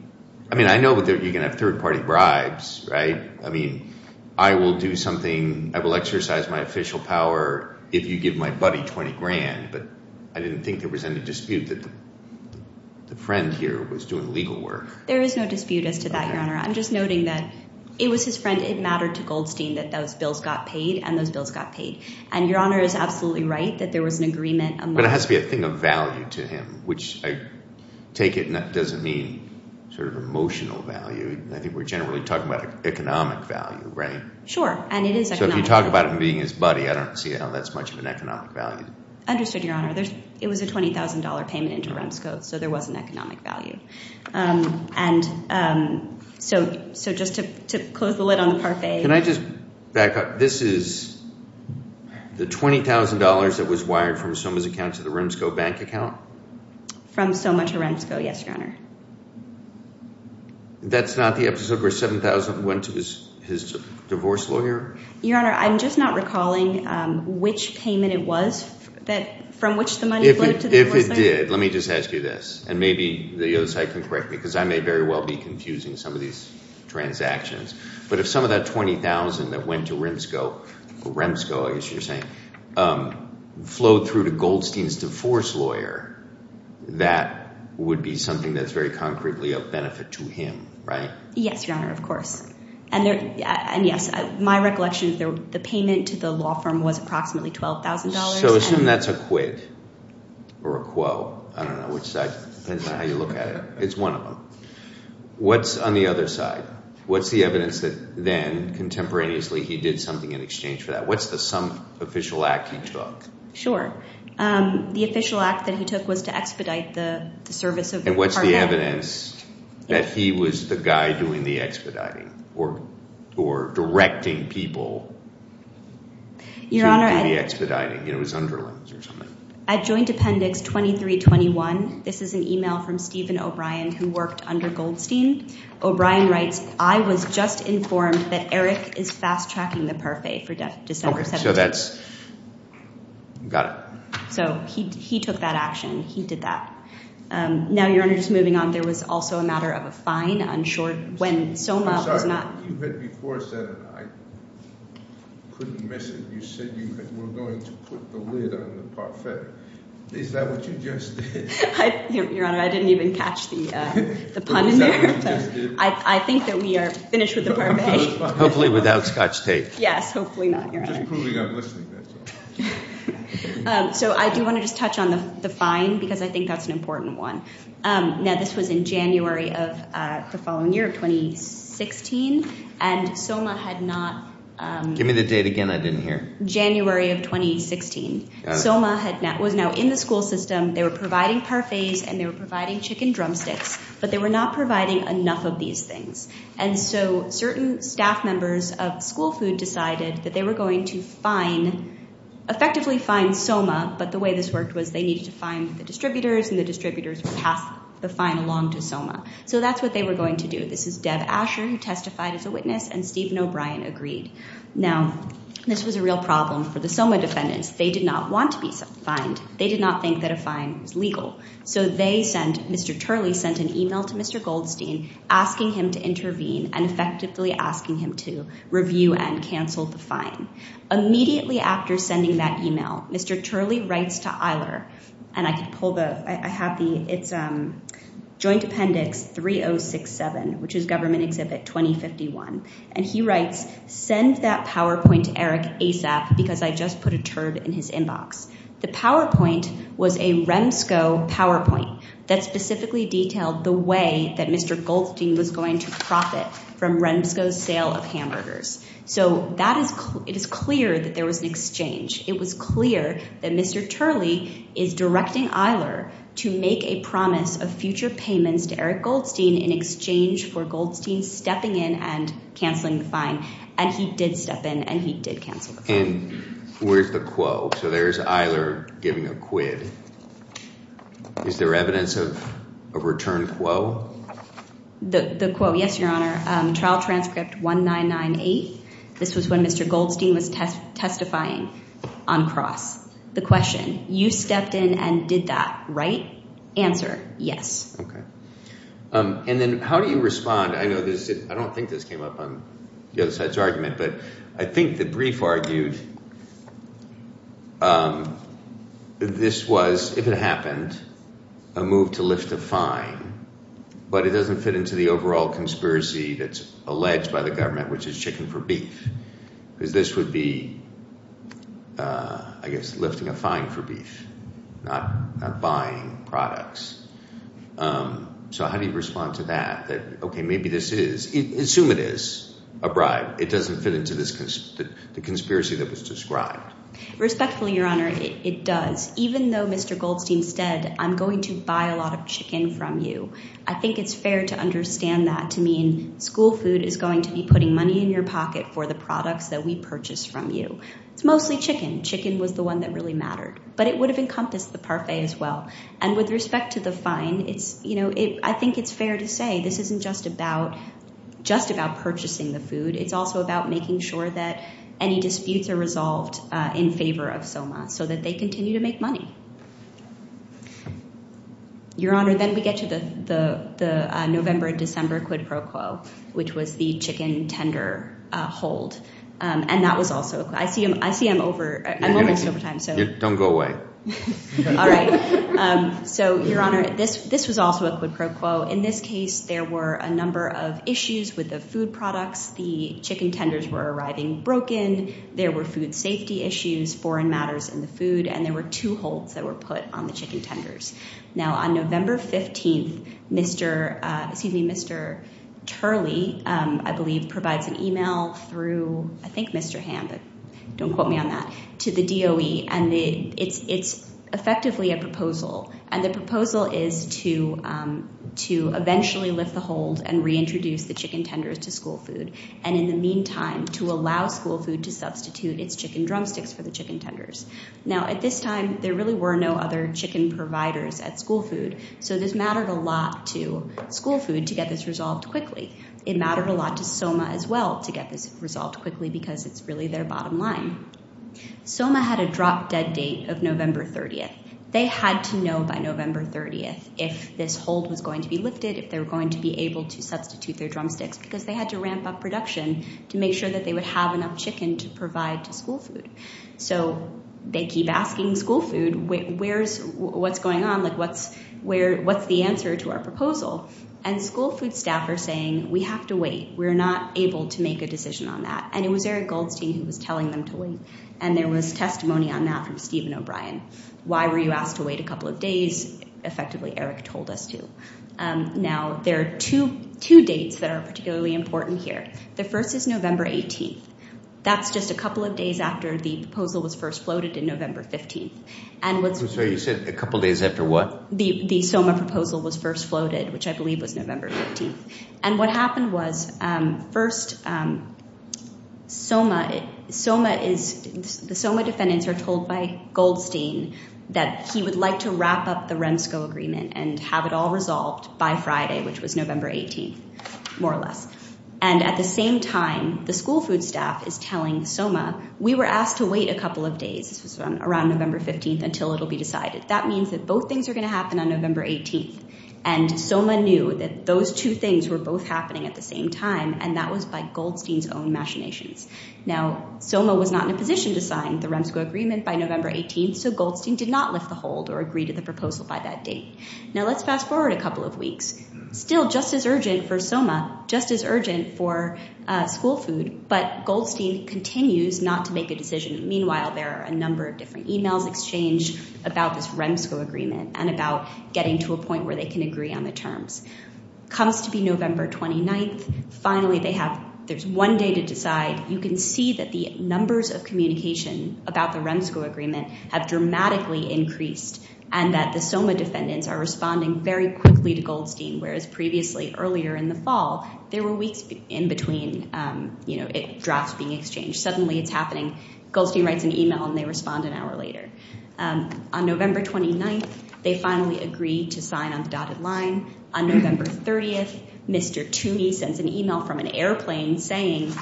I know you can have third party bribes, right? I will do something. I will exercise my official power if you give my buddy $20,000, but I didn't think there was any dispute that the friend here was doing legal work. There is no dispute as to that, Your Honor. I'm just noting that it was his friend. It mattered to Goldstein that those bills got paid, and those bills got paid. And Your Honor is absolutely right that there was an agreement among- But it has to be a thing of value to him, which I take it doesn't mean sort of emotional value. I think we're generally talking about economic value, right? Sure, and it is economic value. So if you talk about him being his buddy, I don't see how that's much of an economic value. Understood, Your Honor. It was a $20,000 payment into REMSCO, so there was an economic value. And so just to close the lid on the parfait- Can I just back up? This is the $20,000 that was wired from Soma's account to the REMSCO bank account? From Soma to REMSCO, yes, Your Honor. That's not the episode where $7,000 went to his divorce lawyer? Your Honor, I'm just not recalling which payment it was from which the money flowed to the divorce lawyer. If it did, let me just ask you this, and maybe the other side can correct me, because I may very well be confusing some of these transactions. But if some of that $20,000 that went to REMSCO, I guess you're saying, flowed through to Goldstein's divorce lawyer, that would be something that's very concretely of benefit to him, right? Yes, Your Honor, of course. And yes, my recollection is the payment to the law firm was approximately $12,000. So assume that's a quid or a quo. I don't know which side, depends on how you look at it. It's one of them. What's on the other side? What's the evidence that then contemporaneously he did something in exchange for that? What's the sum official act he took? Sure. The official act that he took was to expedite the service of the parfait. And what's the evidence that he was the guy doing the expediting, or directing people to do the expediting? It was underlings or something. At joint appendix 2321, this is an email from Stephen O'Brien, who worked under Goldstein. O'Brien writes, I was just informed that Eric is fast-tracking the parfait for December 17th. So that's, got it. So he took that action. He did that. Now, Your Honor, just moving on, there was also a matter of a fine on short, when Soma was not- I'm sorry, you said before, Senator, I couldn't miss it. You said you were going to put the lid on the parfait. Is that what you just did? Your Honor, I didn't even catch the pun in there. Is that what you just did? I think that we are finished with the parfait. Hopefully without scotch tape. Yes, hopefully not, Your Honor. I'm just proving I'm listening to that. So I do want to just touch on the fine, because I think that's an important one. Now, this was in January of the following year, 2016, and Soma had not- Give me the date again I didn't hear. January of 2016. Soma was now in the school system. They were providing parfaits, and they were providing chicken drumsticks, but they were not providing enough of these things. And so certain staff members of School Food decided that they were going to fine- effectively fine Soma, but the way this worked was they needed to fine the distributors, and the distributors would pass the fine along to Soma. So that's what they were going to do. This is Deb Asher, who testified as a witness, and Stephen O'Brien agreed. Now, this was a real problem for the Soma defendants. They did not want to be fined. They did not think that a fine was legal. So they sent- Mr. Turley sent an email to Mr. Goldstein asking him to intervene, and effectively asking him to review and cancel the fine. Immediately after sending that email, Mr. Turley writes to Eiler, and I could pull the- I have the- it's Joint Appendix 3067, which is Government Exhibit 2051. And he writes, send that PowerPoint to Eric ASAP, because I just put a turd in his inbox. The PowerPoint was a REMSCO PowerPoint that specifically detailed the way that Mr. Goldstein was going to profit from REMSCO's sale of hamburgers. So that is- it is clear that there was an exchange. It was clear that Mr. Turley is directing Eiler to make a promise of future payments to Eric Goldstein in exchange for Goldstein stepping in and canceling the fine. And he did step in, and he did cancel the fine. And where's the quo? So there's Eiler giving a quid. Is there evidence of a return quo? The quo, yes, your honor. Trial transcript 1998. This was when Mr. Goldstein was testifying on cross. The question, you stepped in and did that, right? Answer, yes. Okay. And then how do you respond? I know this is- I don't think this came up on the other side's argument, but I think the brief argued this was, if it happened, a move to lift a fine. But it doesn't fit into the overall conspiracy that's alleged by the government, which is chicken for beef. Because this would be, I guess, lifting a fine for beef, not buying products. So how do you respond to that? That, okay, maybe this is- assume it is a bribe. It doesn't fit into the conspiracy that was described. Respectfully, your honor, it does. Even though Mr. Goldstein said, I'm going to buy a lot of chicken from you. I think it's fair to understand that to mean school food is going to be putting money in your pocket for the products that we purchase from you. It's mostly chicken. Chicken was the one that really mattered. But it would have encompassed the parfait as well. And with respect to the fine, I think it's fair to say this isn't just about purchasing the food. It's also about making sure that any disputes are resolved in favor of SOMA so that they continue to make money. Your honor, then we get to the November-December quid pro quo, which was the chicken tender hold. And that was also- I see I'm over- I'm almost over time. Yeah, don't go away. All right. So your honor, this was also a quid pro quo. In this case, there were a number of issues with the food products. The chicken tenders were arriving broken. There were food safety issues, foreign matters in the food. And there were two holds that were put on the chicken tenders. Now, on November 15th, Mr. Turley, I believe, provides an email through, I think, Mr. Hamm, but don't quote me on that, to the DOE. And it's effectively a proposal. And the proposal is to eventually lift the hold and reintroduce the chicken tenders to school food. And in the meantime, to allow school food to substitute its chicken drumsticks for the chicken tenders. Now, at this time, there really were no other chicken providers at school food. So this mattered a lot to school food to get this resolved quickly. It mattered a lot to SOMA as well to get this resolved quickly because it's really their bottom line. SOMA had a drop-dead date of November 30th. They had to know by November 30th if this hold was going to be lifted, if they were going to be able to substitute their drumsticks because they had to ramp up production to make sure that they would have enough chicken to provide to school food. So they keep asking school food, what's going on? Like, what's the answer to our proposal? And school food staff are saying, we have to wait. We're not able to make a decision on that. And it was Eric Goldstein who was telling them to wait. And there was testimony on that from Stephen O'Brien. Why were you asked to wait a couple of days? Effectively, Eric told us to. Now, there are two dates that are particularly important here. The first is November 18th. That's just a couple of days after the proposal was first floated in November 15th. And what's- So you said a couple days after what? The SOMA proposal was first floated, which I believe was November 15th. And what happened was, first, the SOMA defendants are told by Goldstein that he would like to wrap up the REMSCO agreement and have it all resolved by Friday, which was November 18th, more or less. And at the same time, the school food staff is telling SOMA, we were asked to wait a couple of days. This was around November 15th, until it'll be decided. That means that both things are going to happen on November 18th. And SOMA knew that those two things were both happening at the same time, and that was by Goldstein's own machinations. Now, SOMA was not in a position to sign the REMSCO agreement by November 18th, so Goldstein did not lift the hold or agree to the proposal by that date. Now, let's fast forward a couple of weeks. Still just as urgent for SOMA, just as urgent for school food, but Goldstein continues not to make a decision. Meanwhile, there are a number of different emails exchanged about this REMSCO agreement and about getting to a point where they can agree on the terms. Comes to be November 29th. Finally, there's one day to decide. You can see that the numbers of communication about the REMSCO agreement have dramatically increased, and that the SOMA defendants are responding very quickly to Goldstein, whereas previously, earlier in the fall, there were weeks in between drafts being exchanged. Suddenly, it's happening. Goldstein writes an email, and they respond an hour later. On November 29th, they finally agree to sign on the dotted line. On November 30th, Mr. Toomey sends an email from an airplane saying,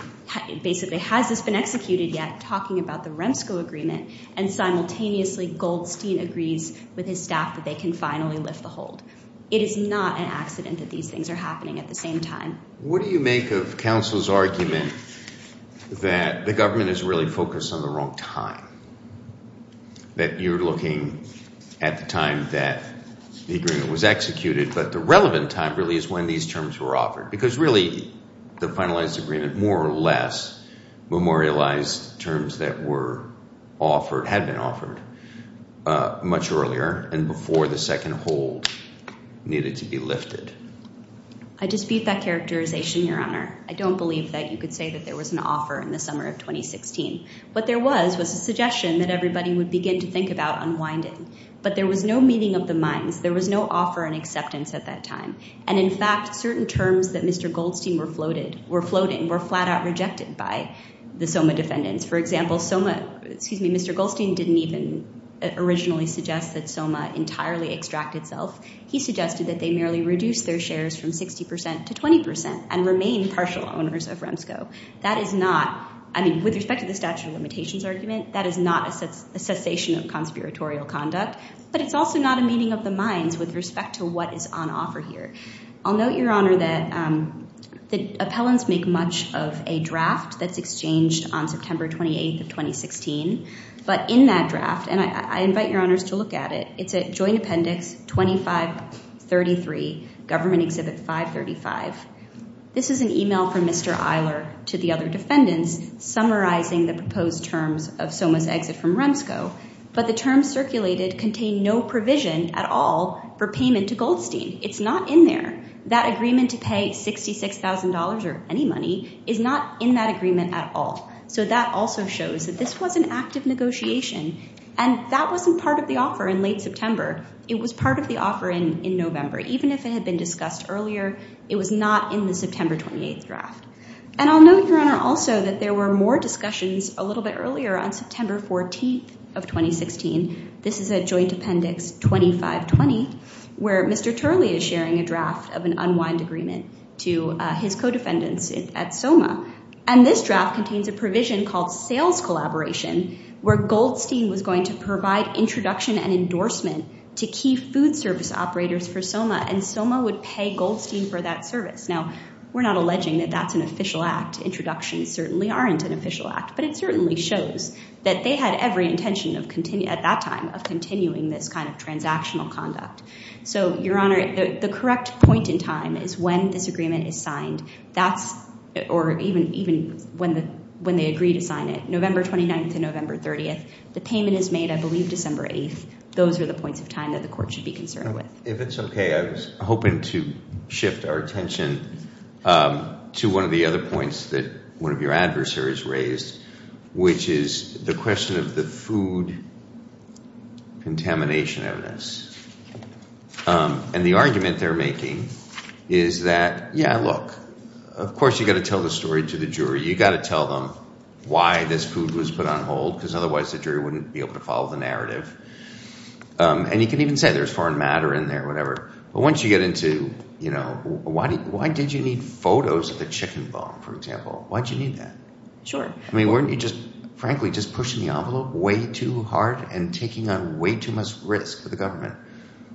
basically, has this been executed yet, talking about the REMSCO agreement, and simultaneously, Goldstein agrees with his staff that they can finally lift the hold. It is not an accident that these things are happening at the same time. What do you make of counsel's argument that the government is really focused on the wrong time, that you're looking at the time that the agreement was executed, but the relevant time, really, is when these terms were offered? Because really, the finalized agreement, more or less, memorialized terms that had been offered much earlier and before the second hold needed to be lifted. I dispute that characterization, Your Honor. I don't believe that you could say that there was an offer in the summer of 2016. What there was was a suggestion that everybody would begin to think about unwinding. But there was no meeting of the minds. There was no offer and acceptance at that time. And in fact, certain terms that Mr. Goldstein were floating were flat out rejected by the SOMA defendants. For example, Mr. Goldstein didn't even originally suggest that SOMA entirely extract itself. He suggested that they merely reduce their shares from 60% to 20% and remain partial owners of REMSCO. That is not, I mean, with respect to the statute of limitations argument, that is not a cessation of conspiratorial conduct. But it's also not a meeting of the minds with respect to what is on offer here. I'll note, Your Honor, that the appellants make much of a draft that's exchanged on September 28th of 2016. But in that draft, and I invite Your Honors to look at it, it's at Joint Appendix 2533, Government Exhibit 535. This is an email from Mr. Eiler to the other defendants summarizing the proposed terms of SOMA's exit from REMSCO. But the terms circulated contain no provision at all for payment to Goldstein. It's not in there. That agreement to pay $66,000 or any money is not in that agreement at all. So that also shows that this was an active negotiation. And that wasn't part of the offer in late September. It was part of the offer in November. Even if it had been discussed earlier, it was not in the September 28th draft. And I'll note, Your Honor, also that there were more discussions a little bit earlier on September 14th of 2016. This is at Joint Appendix 2520, where Mr. Turley is sharing a draft of an unwind agreement to his co-defendants at SOMA. And this draft contains a provision called sales collaboration, where Goldstein was going to provide introduction and endorsement to key food service operators for SOMA, and SOMA would pay Goldstein for that service. Now, we're not alleging that that's an official act. Introductions certainly aren't an official act. But it certainly shows that they had every intention at that time of continuing this kind of transactional conduct. So, Your Honor, the correct point in time is when this agreement is signed, or even when they agree to sign it, November 29th to November 30th. The payment is made, I believe, December 8th. Those are the points of time that the court should be concerned with. If it's okay, I was hoping to shift our attention to one of the other points that one of your adversaries raised, which is the question of the food contamination evidence. And the argument they're making is that, yeah, look, of course, you've got to tell the story to the jury. You've got to tell them why this food was put on hold, because otherwise the jury wouldn't be able to follow the narrative. And you can even say there's foreign matter in there, whatever. But once you get into, you know, why did you need photos of the chicken bone, for example? Why did you need that? Sure. I mean, weren't you just, frankly, just pushing the envelope way too hard and taking on way too much risk for the government?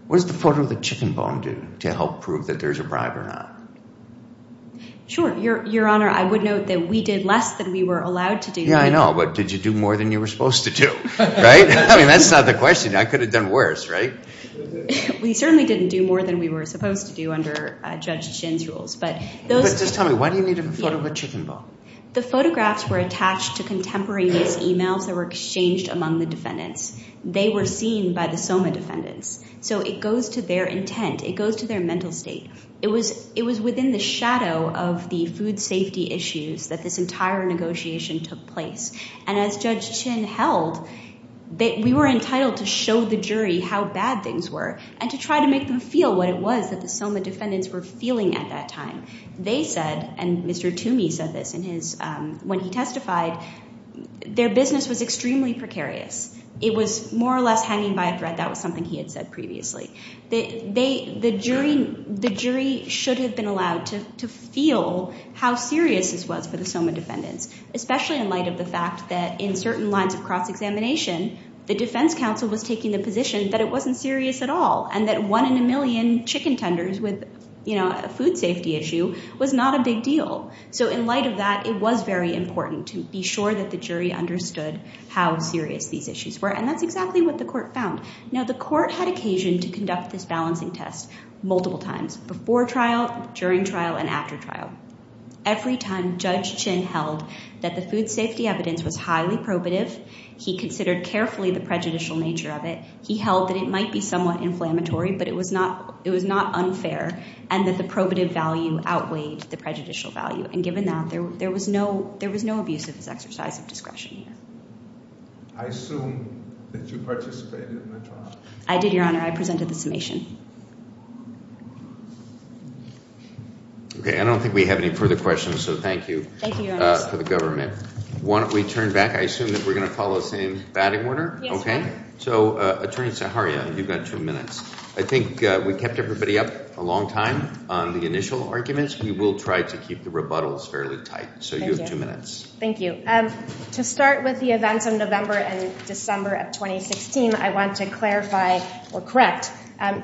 What does the photo of the chicken bone do to help prove that there's a bribe or not? Sure. Your Honor, I would note that we did less than we were allowed to do. Yeah, I know. But did you do more than you were supposed to do, right? I mean, that's not the question. I could have done worse, right? We certainly didn't do more than we were supposed to do under Judge Shin's rules. But those... But just tell me, why do you need a photo of a chicken bone? The photographs were attached to contemporary emails that were exchanged among the defendants. They were seen by the SOMA defendants. So it goes to their intent. It goes to their mental state. It was within the shadow of the food safety issues that this entire negotiation took place. And as Judge Shin held, we were entitled to show the jury how bad things were and to try to make them feel what it was that the SOMA defendants were feeling at that time. They said, and Mr. Toomey said this when he testified, their business was extremely precarious. It was more or less hanging by a thread. That was something he had said previously. The jury should have been allowed to feel how serious this was for the SOMA defendants, especially in light of the fact that in certain lines of cross-examination, the defense counsel was taking the position that it wasn't serious at all and that one in a million chicken tenders with a food safety issue was not a big deal. So in light of that, it was very important to be sure that the jury understood how serious these issues were. And that's exactly what the court found. Now, the court had occasion to conduct this balancing test multiple times, before trial, during trial, and after trial. Every time Judge Shin held that the food safety evidence was highly probative, he considered carefully the prejudicial nature of it. He held that it might be somewhat inflammatory, but it was not unfair, and that the probative value outweighed the prejudicial value. And given that, there was no abuse of his exercise of discretion here. I assume that you participated in the trial. I did, Your Honor. I presented the summation. Okay, I don't think we have any further questions, so thank you. Thank you, Your Honor. For the government. Why don't we turn back? I assume that we're going to follow the same batting order? Yes, Your Honor. So, Attorney Zaharia, you've got two minutes. I think we kept everybody up a long time on the initial arguments. We will try to keep the rebuttals fairly tight. So you have two minutes. Thank you. To start with the events of November and December of 2016, I want to clarify or correct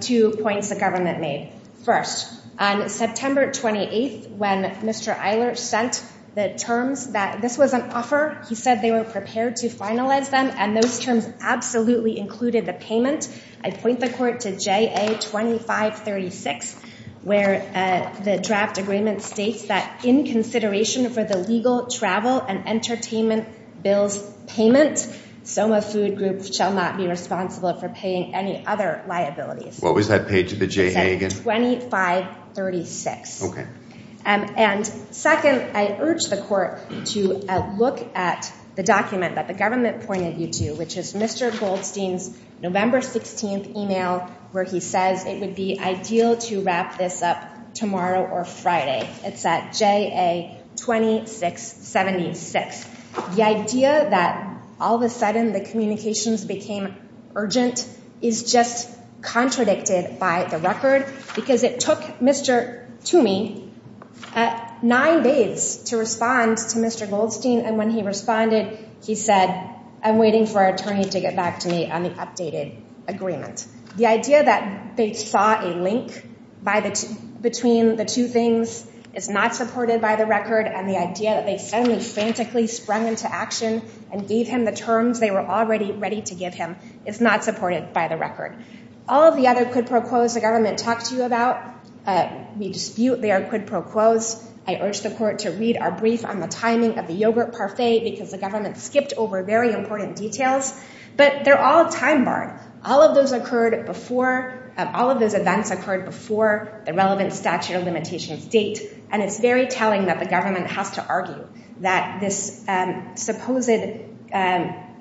two points the government made. First, on September 28th, when Mr. Eiler sent the terms that this was an offer, he said they were prepared to finalize them, and those terms absolutely included the payment. I point the court to JA 2536, where the draft agreement states that, in consideration for the legal travel and entertainment bills payment, Soma Food Group shall not be responsible for paying any other liabilities. What was that paid to the JA again? 2536. Okay. And second, I urge the court to look at the document that the government pointed you to, which is Mr. Goldstein's November 16th email, where he says it would be ideal to wrap this up tomorrow or Friday. It's at JA 2676. The idea that all of a sudden the communications became urgent is just contradicted by the record, because it took Mr. Toomey nine days to respond to Mr. Goldstein. And when he responded, he said, I'm waiting for our attorney to get back to me on the updated agreement. The idea that they saw a link between the two things is not supported by the record, and the idea that they suddenly frantically sprung into action and gave him the terms they were already ready to give him is not supported by the record. All of the other quid pro quos the government talked to you about, we dispute they are quid pro quos. I urge the court to read our brief on the timing of the yogurt parfait, because the government skipped over very important details. But they're all time-barred. All of those events occurred before the relevant statute of limitations date. And it's very telling that the government has to argue that this supposed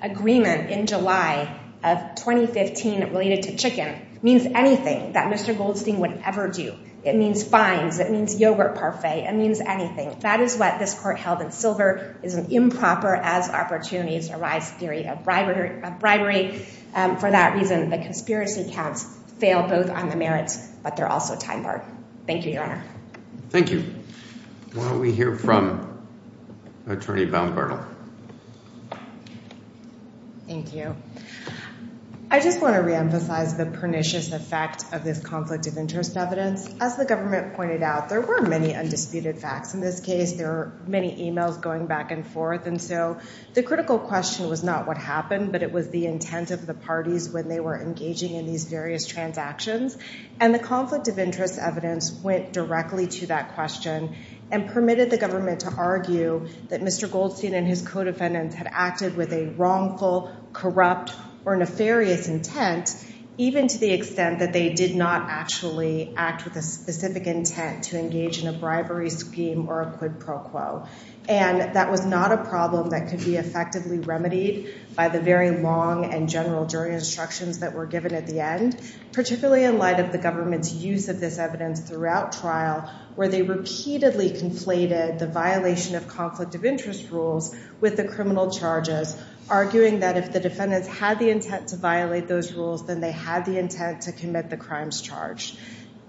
agreement in July of 2015 related to chicken means anything that Mr. Goldstein would ever do. It means fines. It means yogurt parfait. It means anything. That is what this court held in silver is an improper as opportunities arise theory of bribery. For that reason, the conspiracy counts fail both on the merits, but they're also time-barred. Thank you, Your Honor. Thank you. Why don't we hear from Attorney Val Bernal. Thank you. I just want to reemphasize the pernicious effect of this conflict of interest evidence. As the government pointed out, there were many undisputed facts in this case. There were many emails going back and forth. And so the critical question was not what happened, but it was the intent of the parties when they were engaging in these various transactions. And the conflict of interest evidence went directly to that question and permitted the government to argue that Mr. Goldstein and his co-defendants had acted with a wrongful, corrupt, or nefarious intent, even to the extent that they did not actually act with a specific intent to engage in a bribery scheme or a quid pro quo. And that was not a problem that could be effectively remedied by the very long and general jury instructions that were given at the end, particularly in light of the government's use of this evidence throughout trial, where they repeatedly conflated the violation of conflict of interest rules with the criminal charges, arguing that if the defendants had the intent to violate those rules, then they had the intent to commit the crimes charged.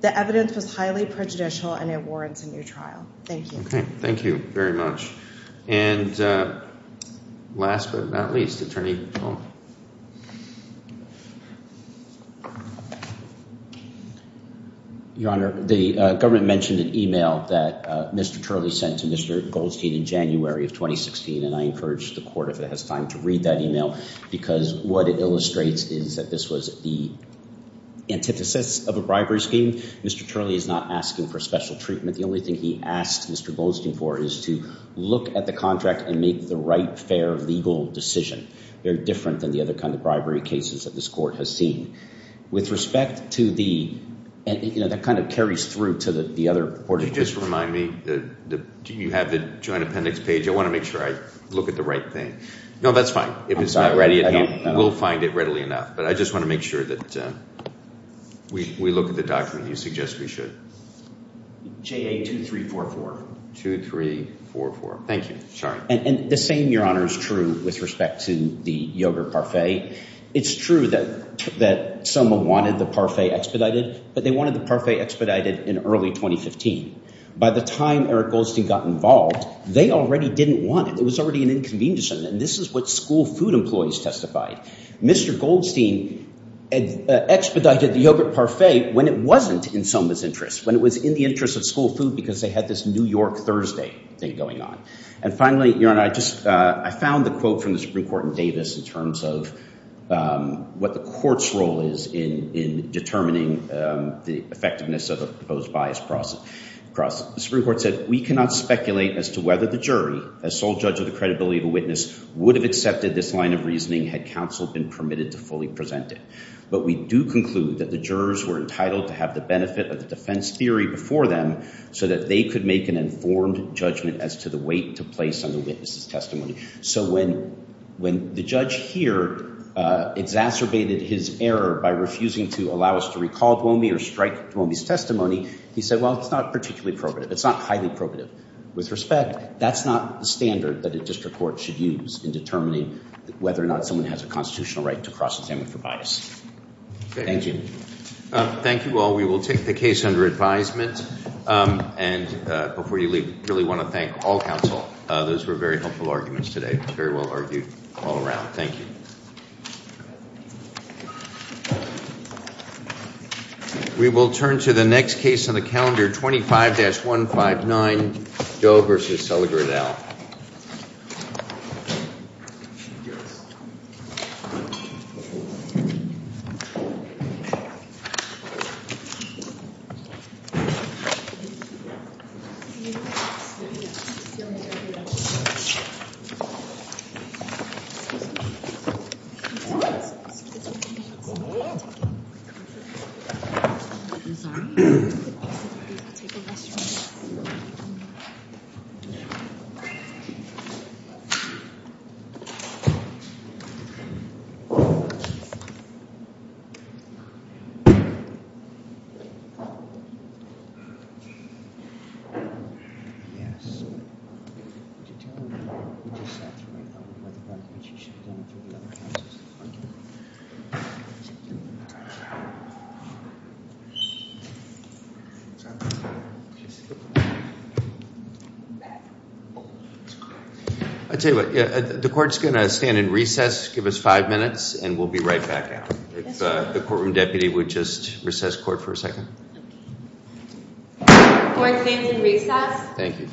The evidence was highly prejudicial and it warrants a new trial. Thank you. Okay, thank you very much. And last but not least, Attorney Hall. Your Honor, the government mentioned an email that Mr. Turley sent to Mr. Goldstein in January of 2016. And I encourage the court, if it has time, to read that email, because what it illustrates is that this was the antithesis of a bribery scheme. Mr. Turley is not asking for special treatment. The only thing he asked Mr. Goldstein for is to look at the contract and make the right, fair, legal decision. They're different than the other kind of bribery cases that this court has seen. With respect to the, you know, that kind of carries through to the other court. Do you just remind me, do you have the joint appendix page? I want to make sure I look at the right thing. No, that's fine. If it's not ready, we'll find it readily enough. But I just want to make sure that we look at the document you suggest we should. JA 2344. 2344. Thank you. Sorry. And the same, Your Honor, is true with respect to the yogurt parfait. It's true that someone wanted the parfait expedited, but they wanted the parfait expedited in early 2015. By the time Eric Goldstein got involved, they already didn't want it. It was already an inconvenience. And this is what school food employees testified. Mr. Goldstein expedited the yogurt parfait when it wasn't in someone's interest, when it was in the interest of school food, because they had this New York Thursday thing going on. And finally, Your Honor, I found the quote from the Supreme Court in Davis in terms of what the court's role is in determining the effectiveness of a proposed bias process. The Supreme Court said, we cannot speculate as to whether the jury, as sole judge of the credibility of a witness, would have accepted this line of reasoning had counsel been permitted to fully present it. But we do conclude that the jurors were entitled to have the benefit of the defense theory before them so that they could make an informed judgment as to the weight to place on the witness's testimony. So when the judge here exacerbated his error by refusing to allow us to recall Dwomey or strike Dwomey's testimony, he said, well, it's not particularly probative. It's not highly probative. With respect, that's not the standard that a district court should use in determining whether or not someone has a constitutional right to cross-examine for bias. Thank you. Thank you all. We will take the case under advisement. And before you leave, really want to thank all counsel. Those were very helpful arguments today, very well argued all around. Thank you. We will turn to the next case on the calendar, 25-159, Doe v. Seliger, et al. I'll tell you what. The court's going to stand in recess, give us five minutes, and we'll be right back out. If the courtroom deputy would just recess court for a second. Court stands in recess. Thank you.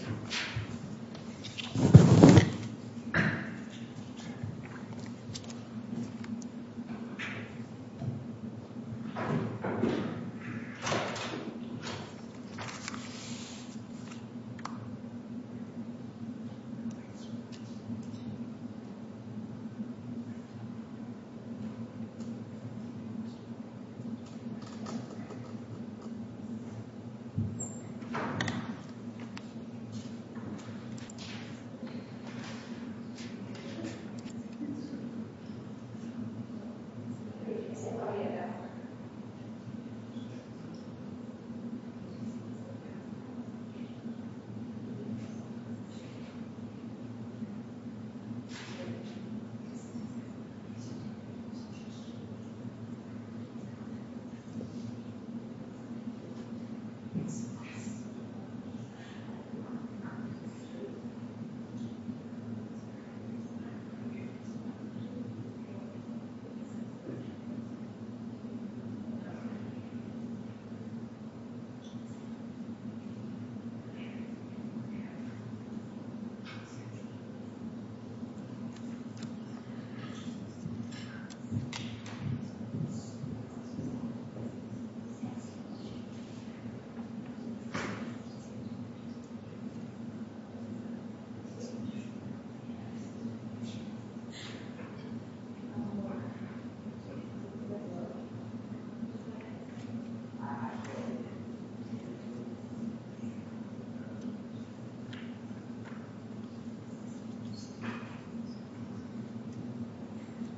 Thank you. Thank you. Thank you. Thank you.